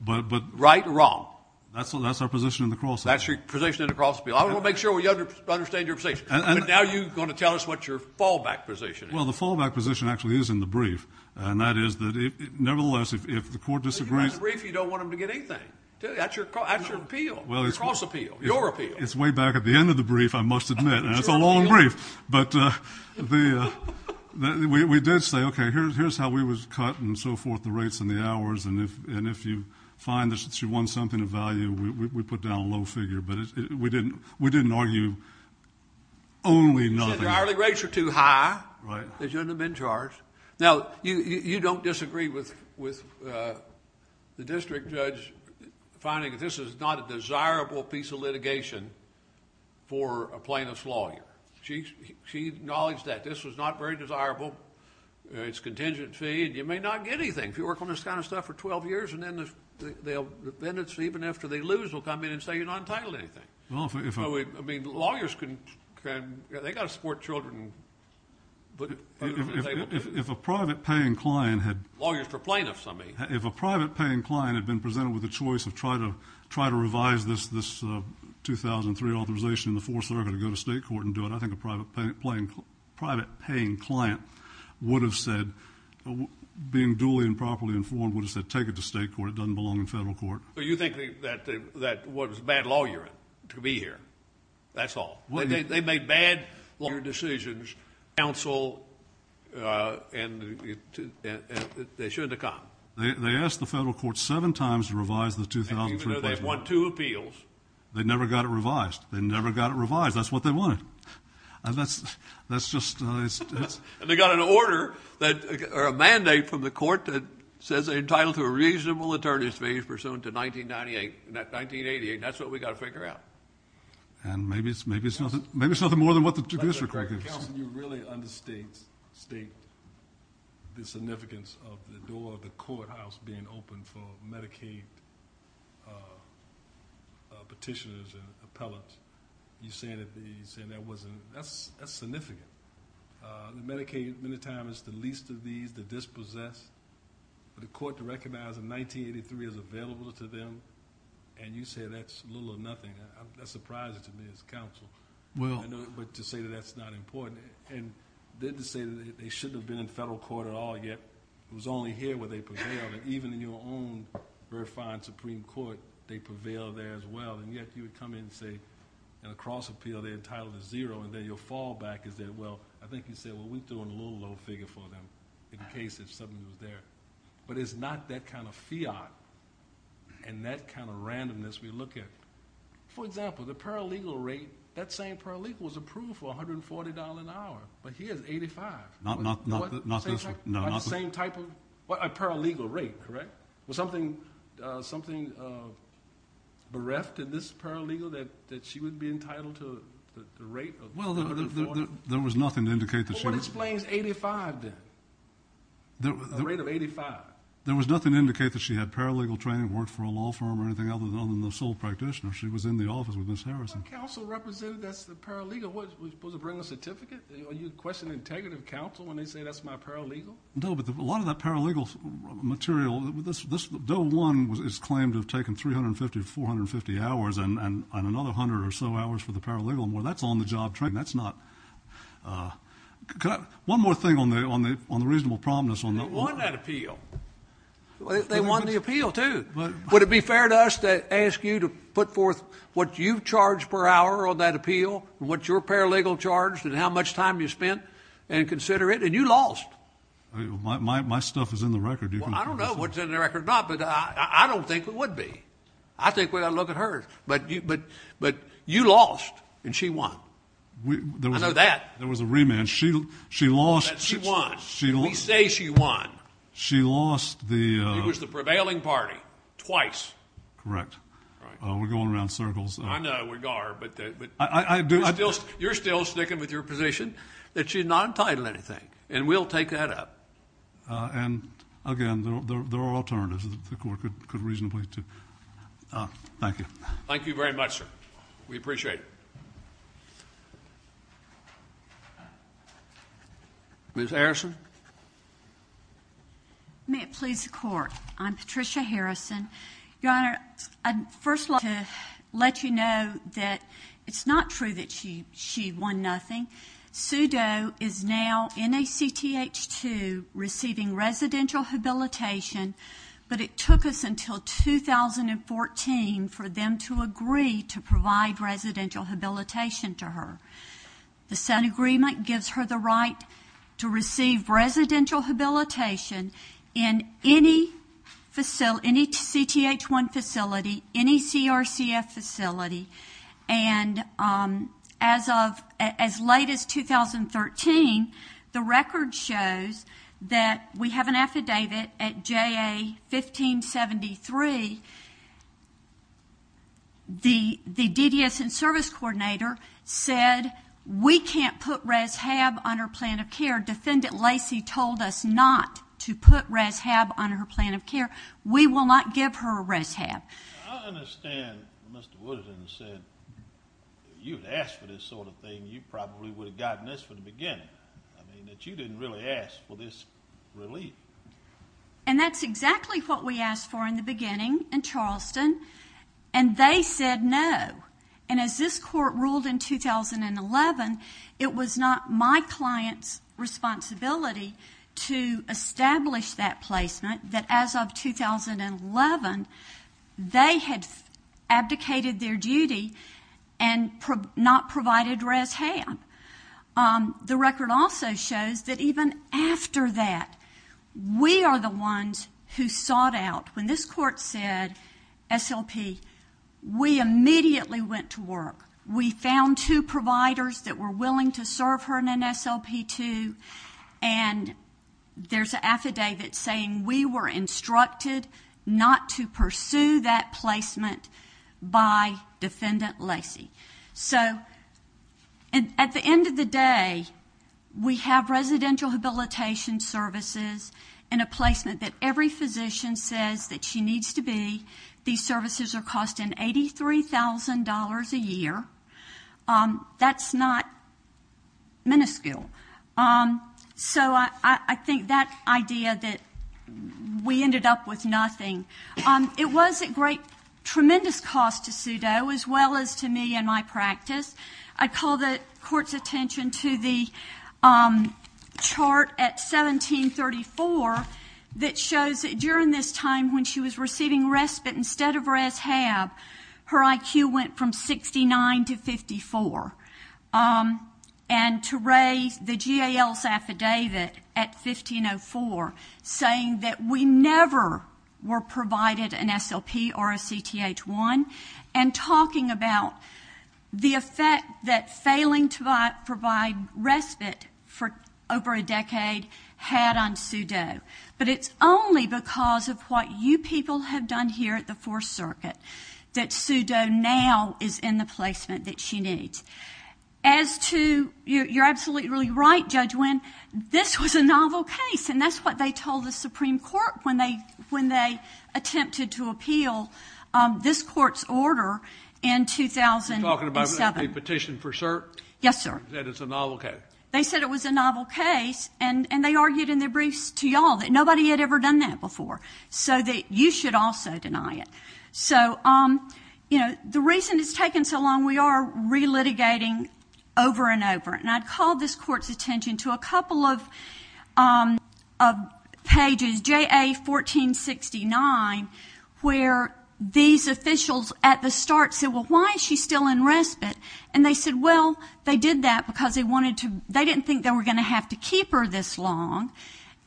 But – Right or wrong. That's our position in the cross-appeal. That's your position in the cross-appeal. I want to make sure we understand your position. But now you're going to tell us what your fallback position is. Well, the fallback position actually is in the brief. And that is that it – nevertheless, if the court disagrees – If it's in the brief, you don't want them to get anything. That's your appeal. Your cross-appeal. Your appeal. It's way back at the end of the brief, I must admit. And it's a long brief. But the – we did say, okay, here's how we was cut and so forth, the rates and the hours. And if you find that she wants something of value, we put down a low figure. But we didn't argue only nothing. The hourly rates are too high. Right. She shouldn't have been charged. Now, you don't disagree with the district judge finding this is not a desirable piece of litigation for a plaintiff's lawyer. She acknowledged that this was not very desirable. It's contingent fee. You may not get anything. If you work on this kind of stuff for 12 years, and then the defendants, even after they lose, will come in and say you're not entitled to anything. I mean, lawyers can – they've got to support children. If a private-paying client had – Lawyers for plaintiffs, I mean. If a private-paying client had been presented with a choice of trying to revise this 2003 authorization in the Fourth Circuit to go to state court and do it, I think a private-paying client would have said, being duly and properly informed, would have said take it to state court. It doesn't belong in federal court. So you think that was a bad lawyer to be here. That's all. They made bad decisions, counsel, and they shouldn't have come. They asked the federal court seven times to revise the 2003. They won two appeals. They never got it revised. They never got it revised. That's what they wanted. And that's just – And they got an order that – or a mandate from the court that says they're entitled to a reasonable attorney's fee pursuant to 1998. And that 1988, that's what we've got to figure out. And maybe it's nothing more than what the Judiciary Court did. Counsel, you really understate the significance of the door of the courthouse being open for Medicaid petitioners and appellants. You say that wasn't – that's significant. Medicaid many times is the least of these, the dispossessed. For the court to recognize that 1983 is available to them and you say that's little or nothing, that's surprising to me as counsel. Well, I know, but to say that that's not important. And they didn't say that they shouldn't have been in federal court at all yet. It was only here where they prevailed. And even in your own refined Supreme Court, they prevailed there as well. And yet you would come in and say in a cross appeal they're entitled to zero, and then your fallback is that, well, I think you said, well, we threw a low, low figure for them in case it suddenly was there. But it's not that kind of fiat and that kind of randomness we look at. For example, the paralegal rate, that same paralegal was approved for $140 an hour, but here it's $85. Not the same type of – a paralegal rate, correct? Was something bereft in this paralegal that she would be entitled to the rate of $140? Well, there was nothing to indicate that she – Well, what explains $85 then, the rate of $85? There was nothing to indicate that she had paralegal training, worked for a law firm or anything other than the sole practitioner. She was in the office with Ms. Harrison. Counsel represented that paralegal was supposed to bring a certificate? Are you questioning integrity of counsel when they say that's not paralegal? No, but a lot of that paralegal material – this – though one is claimed to have taken 350, 450 hours and another 100 or so hours for the paralegal, that's on-the-job training. That's not – could I – one more thing on the reasonable prominence on the – She won that appeal. They won the appeal, too. Would it be fair to us to ask you to put forth what you charge per hour on that appeal, what your paralegal charged and how much time you spent and consider it? And you lost. My stuff is in the record. I don't know what's in the record or not, but I don't think it would be. I think when I look at hers. But you lost and she won. I know that. There was a rematch. She lost. She won. We say she won. She lost the – It was the prevailing party twice. Correct. We're going around circles. I know we are, but – I do – You're still sticking with your position that she's not entitled to anything, and we'll take that up. And, again, there are alternatives that the court could reasonably – thank you. Thank you very much, sir. We appreciate it. Ms. Harrison. May it please the Court. I'm Patricia Harrison. Your Honor, I'd first like to let you know that it's not true that she won nothing. SUDO is now NACTH2 receiving residential habilitation, but it took us until 2014 for them to agree to provide residential habilitation to her. The Senate agreement gives her the right to receive residential habilitation in any CTH1 facility, any CRCF facility. And as of – as late as 2013, the record shows that we have an affidavit at JA 1573. The DDS and service coordinator said we can't put res-hab on her plan of care. Defendant Lacey told us not to put res-hab on her plan of care. We will not give her res-hab. I understand Mr. Woodard said if you had asked for this sort of thing, you probably would have gotten this from the beginning, that you didn't really ask for this relief. And that's exactly what we asked for in the beginning in Charleston, and they said no. And as this Court ruled in 2011, it was not my client's responsibility to establish that placement, that as of 2011, they had abdicated their duty and not provided res-hab. The record also shows that even after that, we are the ones who sought out. When this Court said SLP, we immediately went to work. We found two providers that were willing to serve her in an SLP2, and there's an affidavit saying we were instructed not to pursue that placement by Defendant Lacey. So at the end of the day, we have residential habilitation services and a placement that every physician says that she needs to be. These services are costing $83,000 a year. That's not minuscule. So I think that idea that we ended up with nothing. It was a great, tremendous cost to Sudow as well as to me and my practice. I call the Court's attention to the chart at 1734 that shows that during this time when she was receiving respite instead of res-hab, her IQ went from 69 to 54. And to Ray, the GAL's affidavit at 1504 saying that we never were provided an SLP or a CTH1 and talking about the effect that failing to provide respite for over a decade had on Sudow. But it's only because of what you people have done here at the Fourth Circuit that Sudow now is in the placement that she needs. As to your absolutely right, Judge Wynn, this was a novel case, and that's what they told the Supreme Court when they attempted to appeal this Court's order in 2007. You're talking about a petition for cert? Yes, sir. That it's a novel case. They said it was a novel case, and they argued in their briefs to you all that nobody had ever done that before, so that you should also deny it. So, you know, the reason it's taken so long, we are re-litigating over and over. And I call this Court's attention to a couple of pages, J.A. 1469, where these officials at the start said, well, why is she still in respite? And they said, well, they did that because they didn't think they were going to have to keep her this long,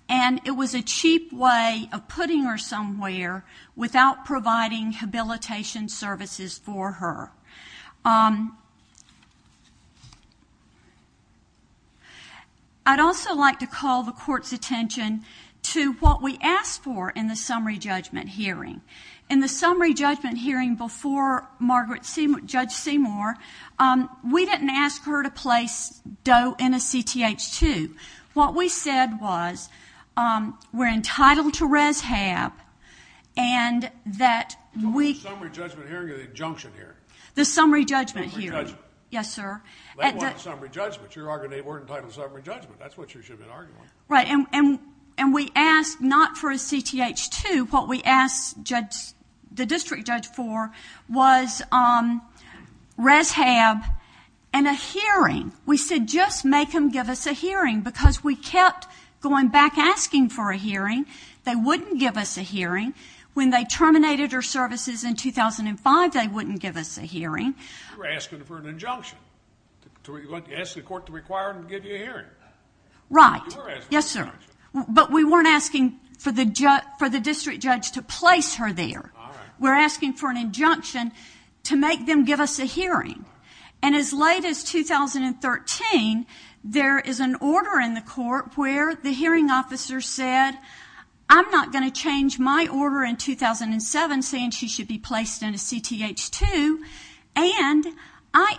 and it was a cheap way of putting her somewhere without providing habilitation services for her. I'd also like to call the Court's attention to what we asked for in the summary judgment hearing. In the summary judgment hearing before Judge Seymour, we didn't ask her to place Doe in a CTH-2. What we said was we're entitled to res-hab, and that we... Summary judgment hearing or the injunction hearing? The summary judgment hearing. Summary judgment. Yes, sir. They want summary judgment. You're arguing they weren't entitled to summary judgment. That's what you should have been arguing. Right. And we asked not for a CTH-2. What we asked the district judge for was res-hab and a hearing. We said just make them give us a hearing because we kept going back asking for a hearing. They wouldn't give us a hearing. When they terminated her services in 2005, they wouldn't give us a hearing. You were asking for an injunction. You asked the court to require them to give you a hearing. Right. Yes, sir. But we weren't asking for the district judge to place her there. We're asking for an injunction to make them give us a hearing. And as late as 2013, there is an order in the court where the hearing officer said, I'm not going to change my order in 2007 saying she should be placed in a CTH-2, and I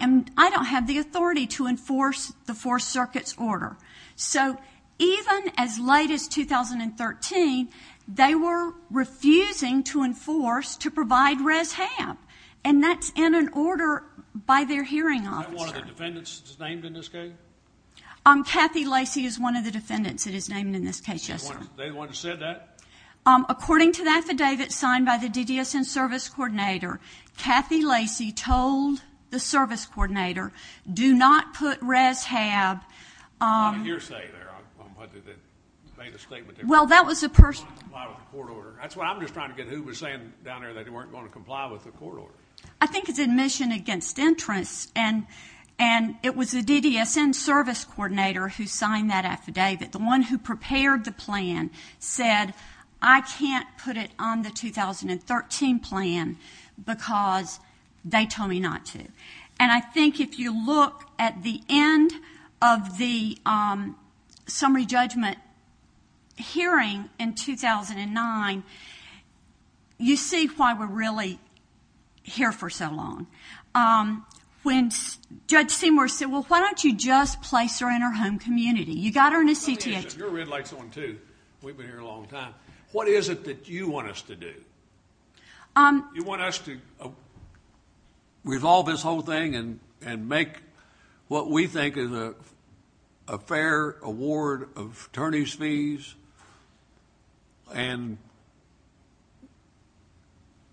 don't have the authority to enforce the Fourth Circuit's order. So even as late as 2013, they were refusing to enforce to provide res-hab, and that's in an order by their hearing officer. Is that one of the defendants that's named in this case? Kathy Lacey is one of the defendants that is named in this case, yes, sir. They're the ones who said that? According to the affidavit signed by the DDSN service coordinator, Kathy Lacey told the service coordinator, do not put res-hab. What did you say there? Well, that was the person. That's what I'm just trying to get at. Who was saying down there that they weren't going to comply with the court order? I think it's admission against entrance, and it was the DDSN service coordinator who signed that affidavit, the one who prepared the plan said, I can't put it on the 2013 plan because they told me not to. And I think if you look at the end of the summary judgment hearing in 2009, you see why we're really here for so long. When Judge Seymour said, well, why don't you just place her in her home community? You've got her in a CPS. You're in like someone, too. We've been here a long time. What is it that you want us to do? You want us to resolve this whole thing and make what we think is a fair award of attorneys' fees and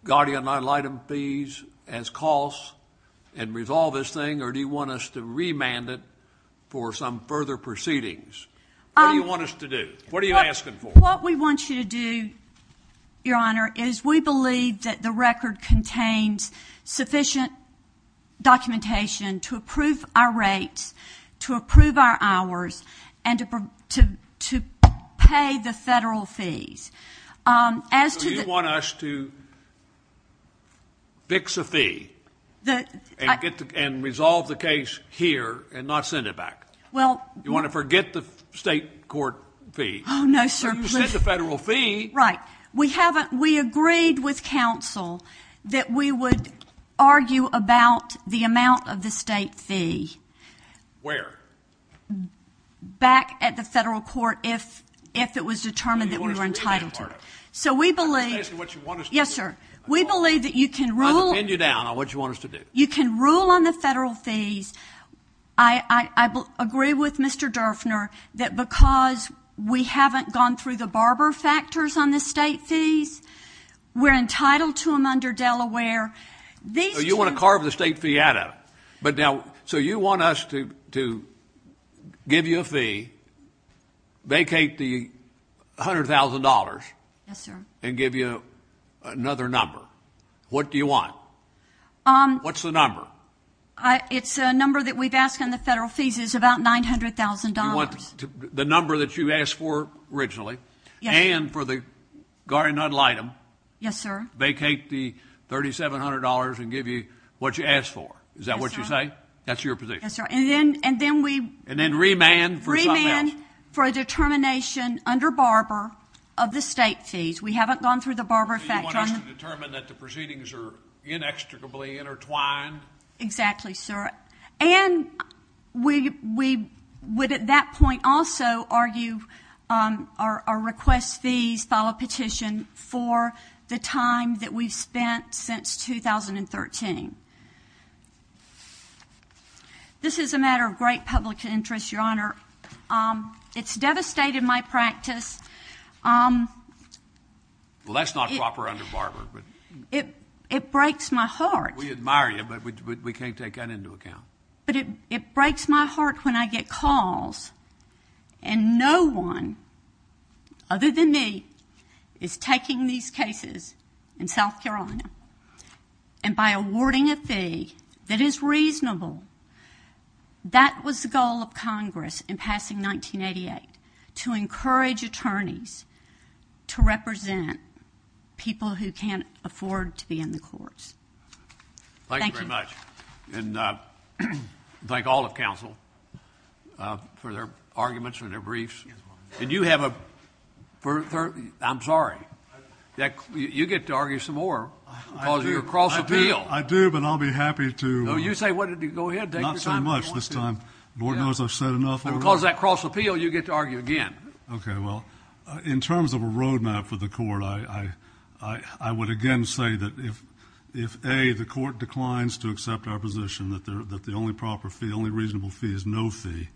guardian item fees as costs and resolve this thing, or do you want us to remand it for some further proceedings? What do you want us to do? What are you asking for? What we want you to do, Your Honor, is we believe that the record contains sufficient documentation to approve our rates, to approve our hours, and to pay the federal fees. Do you want us to fix a fee and resolve the case here and not send it back? Do you want to forget the state court fee? Oh, no, sir. Forget the federal fee. Right. We agreed with counsel that we would argue about the amount of the state fee. Where? Back at the federal court if it was determined that we were entitled to it. So we believe that you can rule on the federal fees. I agree with Mr. Durfner that because we haven't gone through the barber factors on the state fees, we're entitled to them under Delaware. So you want to carve the state fee out of it. But now, so you want us to give you a fee, vacate the $100,000 and give you another number. What do you want? What's the number? It's a number that we've asked on the federal fees. It's about $900,000. The number that you asked for originally and for the guardian idol item. Yes, sir. Vacate the $3,700 and give you what you asked for. Is that what you say? That's your position. Yes, sir. And then we remand for a determination under barber of the state fees. We haven't gone through the barber factors. You want us to determine that the proceedings are inextricably intertwined. Exactly, sir. And we would at that point also argue or request fees, file a petition for the time that we've spent since 2013. This is a matter of great public interest, Your Honor. It's devastated my practice. Well, that's not to offer under barber. It breaks my heart. We admire you, but we can't take that into account. But it breaks my heart when I get calls and no one other than me is taking these cases in South Carolina. And by awarding a fee that is reasonable, that was the goal of Congress in passing 1988, to encourage attorneys to represent people who can't afford to be in the courts. Thank you. Thank you very much. And thank all the counsel for their arguments and their briefs. And you have a ‑‑ I'm sorry. You get to argue some more because of your cross appeal. I do, but I'll be happy to ‑‑ No, you say what did you go ahead. Not so much this time. The board knows I've said enough already. Because of that cross appeal, you get to argue again. Okay. Well, in terms of a road map for the court, I would again say that if, A, the court declines to accept our position that the only proper fee, only reasonable fee is no fee,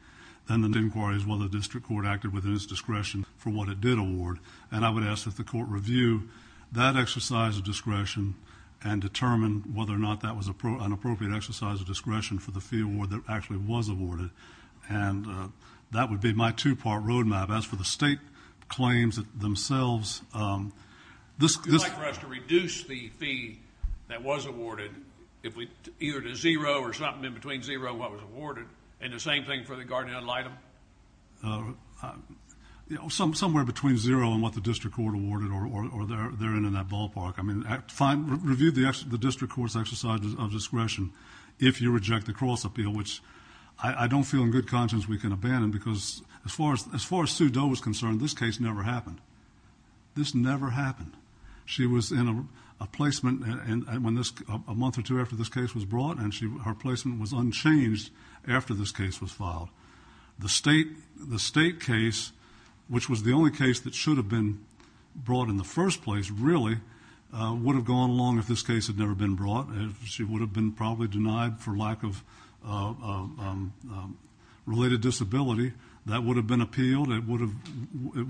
then the inquiry is whether the district court acted within its discretion for what it did award. And I would ask that the court review that exercise of discretion and determine whether or not that was an appropriate exercise of discretion for the fee award that actually was awarded. And that would be my two‑part road map. As for the state claims themselves, this ‑‑ Would you like for us to reduce the fee that was awarded either to zero or something in between zero, what was awarded, and the same thing for the guardian ad litem? Somewhere between zero and what the district court awarded or they're in in that ballpark. I mean, review the district court's exercise of discretion if you reject the cross appeal, which I don't feel in good conscience we can abandon because as far as Sue Doe was concerned, this case never happened. This never happened. She was in a placement a month or two after this case was brought, and her placement was unchanged after this case was filed. The state case, which was the only case that should have been brought in the first place, really would have gone along if this case had never been brought. She would have been probably denied for lack of related disability. That would have been appealed. It would have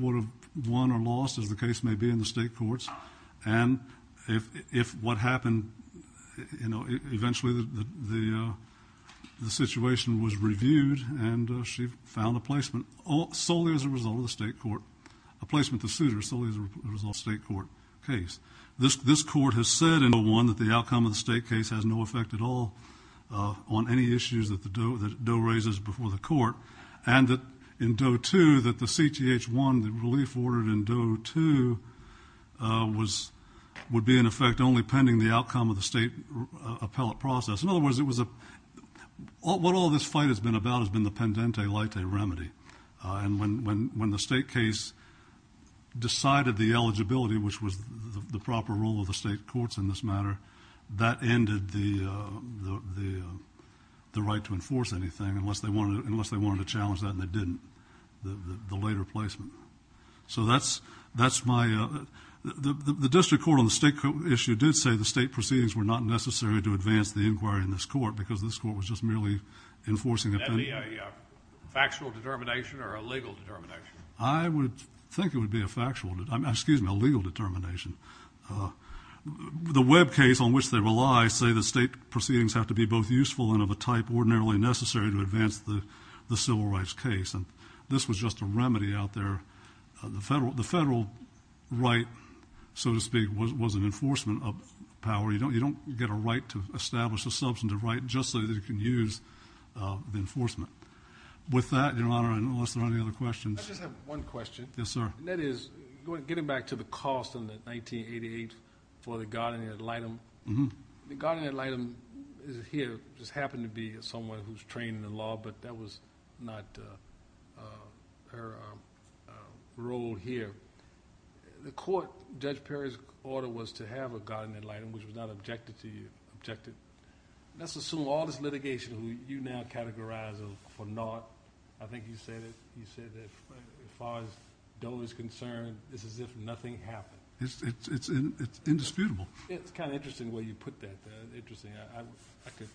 won or lost, as the case may be, in the state courts. And if what happened, you know, eventually the situation was reviewed, and she found a placement solely as a result of the state court, a placement to suit her solely as a result of the state court case. This court has said in Doe 1 that the outcome of the state case has no effect at all on any issues that Doe raises before the court, and that in Doe 2 that the CTH1, the relief ordered in Doe 2, would be in effect only pending the outcome of the state appellate process. In other words, what all this fight has been about has been the pendente leite remedy. And when the state case decided the eligibility, which was the proper rule of the state courts in this matter, that ended the right to enforce anything unless they wanted to challenge that, and they didn't, the later placement. So that's my – the district court on the state issue did say the state proceedings were not necessary to advance the inquiry in this court because this court was just merely enforcing a penalty. Would that be a factual determination or a legal determination? I would think it would be a factual – excuse me, a legal determination. The web case on which they rely say the state proceedings have to be both useful and of a type ordinarily necessary to advance the civil rights case, and this was just a remedy out there. The federal right, so to speak, was an enforcement of power. You don't get a right to establish a substantive right just so that you can use enforcement. With that, Your Honor, unless there are any other questions. I just have one question. Yes, sir. And that is getting back to the cost in the 1988 for the guardian ad litem. The guardian ad litem here just happened to be someone who's trained in the law, but that was not her role here. The court, Judge Perry's order was to have a guardian ad litem, which was not objected to. That's a civil law. This litigation, you now categorize it for not. I think you said it. You said that as far as Doe is concerned, this is just nothing happened. It's indisputable. It's kind of interesting where you put that. It's interesting. I could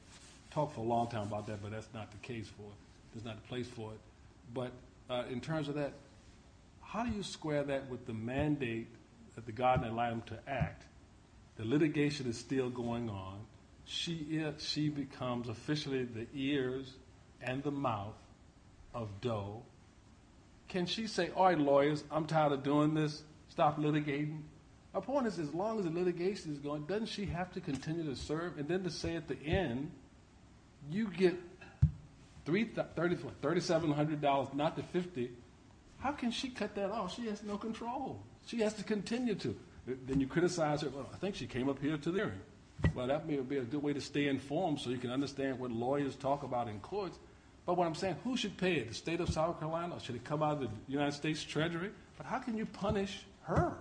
talk for a long time about that, but that's not the case for it. There's not a place for it. In terms of that, how do you square that with the mandate that the guardian ad litem to act? The litigation is still going on. If she becomes officially the ears and the mouth of Doe, can she say, All right, lawyers, I'm tired of doing this. Stop litigating. As long as the litigation is going, doesn't she have to continue to serve? Then to say at the end, you get $3,700, not the 50. How can she cut that off? She has no control. She has to continue to. Then you criticize her. I think she came up here today. That may be a good way to stay informed so you can understand what lawyers talk about in court. What I'm saying, who should pay it, the state of South Carolina? Should it come out of the United States Treasury? How can you punish her?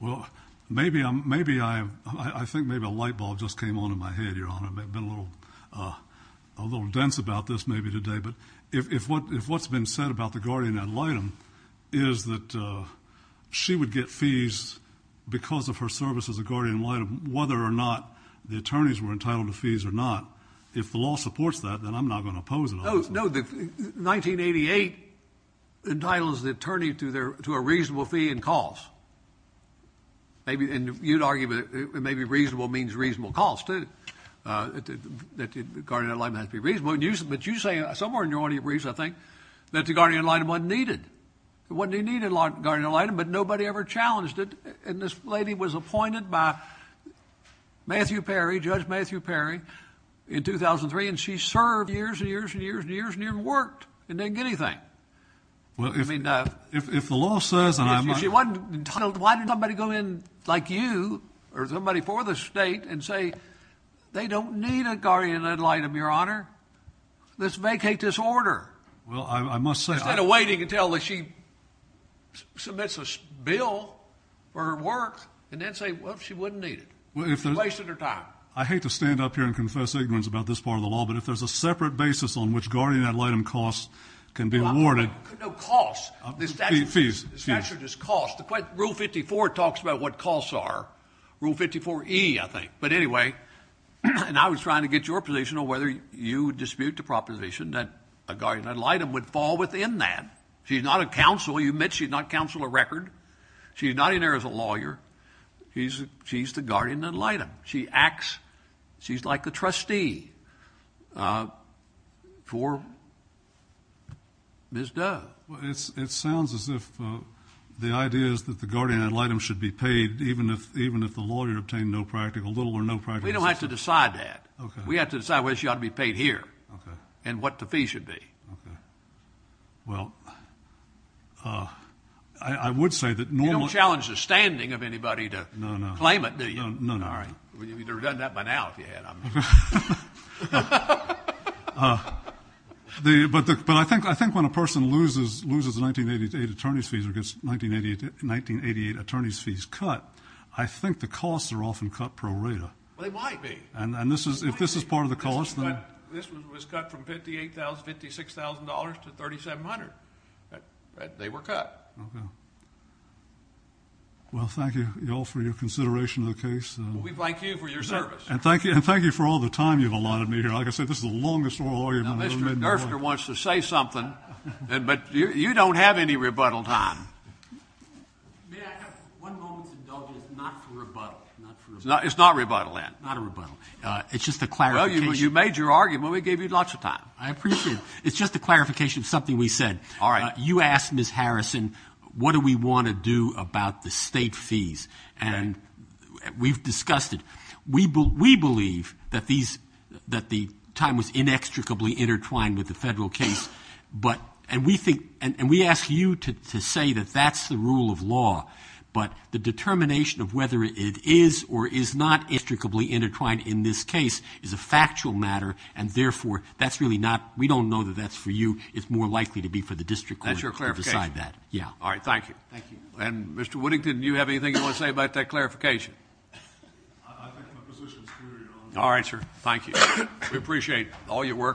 Well, maybe I think maybe a light bulb just came on in my head, Your Honor. I've been a little dense about this maybe today. But if what's been said about the guardian ad litem is that she would get fees because of her service as a guardian ad litem, whether or not the attorneys were entitled to fees or not, if the law supports that, then I'm not going to oppose it. No, the 1988 entitles the attorney to a reasonable fee and cost. And you'd argue that maybe reasonable means reasonable cost, too, that the guardian ad litem has to be reasonable. But you say somewhere in your argument, I think, that the guardian ad litem wasn't needed. It wasn't a needed guardian ad litem, but nobody ever challenged it. And this lady was appointed by Matthew Perry, Judge Matthew Perry, in 2003, and she served years and years and years and years and never worked and didn't get anything. Well, if the law says and I'm not— Why did somebody go in like you or somebody for the state and say they don't need a guardian ad litem, Your Honor? Let's vacate this order. Well, I must say— I'm kind of waiting until she submits a bill for her work and then say, well, she wouldn't need it. It's a waste of her time. I hate to stand up here and confess ignorance about this part of the law, but if there's a separate basis on which guardian ad litem costs can be awarded— No, costs. Fees. The statute is costs. Rule 54 talks about what costs are. Rule 54E, I think. But anyway, and I was trying to get your position on whether you dispute the proposition that a guardian ad litem would fall within that. She's not a counsel. You admit she's not a counsel of record. She's not in there as a lawyer. She's the guardian ad litem. She acts—she's like the trustee for Ms. Dove. It sounds as if the idea is that the guardian ad litem should be paid even if the lawyer obtained no practical— We don't have to decide that. We have to decide whether she ought to be paid here and what the fee should be. Okay. Well, I would say that— You don't challenge the standing of anybody to claim it, do you? No, no. All right. You could have done that by now if you had. But I think when a person loses 1988 attorney's fees or gets 1988 attorney's fees cut, I think the costs are often cut pro rata. They might be. And if this is part of the cost— This one was cut from $58,000 to $56,000 to $3,700. They were cut. Okay. Well, thank you all for your consideration of the case. We'd like you for your service. And thank you for all the time you've allotted me here. Like I said, this is the longest oral argument I've ever been in. Now, Mr. Durfner wants to say something, but you don't have any rebuttal time. May I? One moment, Mr. Dove. It's not a rebuttal. It's not a rebuttal, Ed. It's not a rebuttal. It's just a clarification. Well, you made your argument. We gave you lots of time. I appreciate it. It's just a clarification of something we said. All right. You asked Ms. Harrison, what do we want to do about the state fees, and we've discussed it. We believe that the time was inextricably intertwined with the federal case, and we ask you to say that that's the rule of law, but the determination of whether it is or is not inextricably intertwined in this case is a factual matter, and therefore that's really not we don't know that that's for you. It's more likely to be for the district court to decide that. That's your clarification? Yeah. All right. Thank you. Thank you. And, Mr. Woodington, do you have anything you want to say about that clarification? All right, sir. Thank you. We appreciate all your work.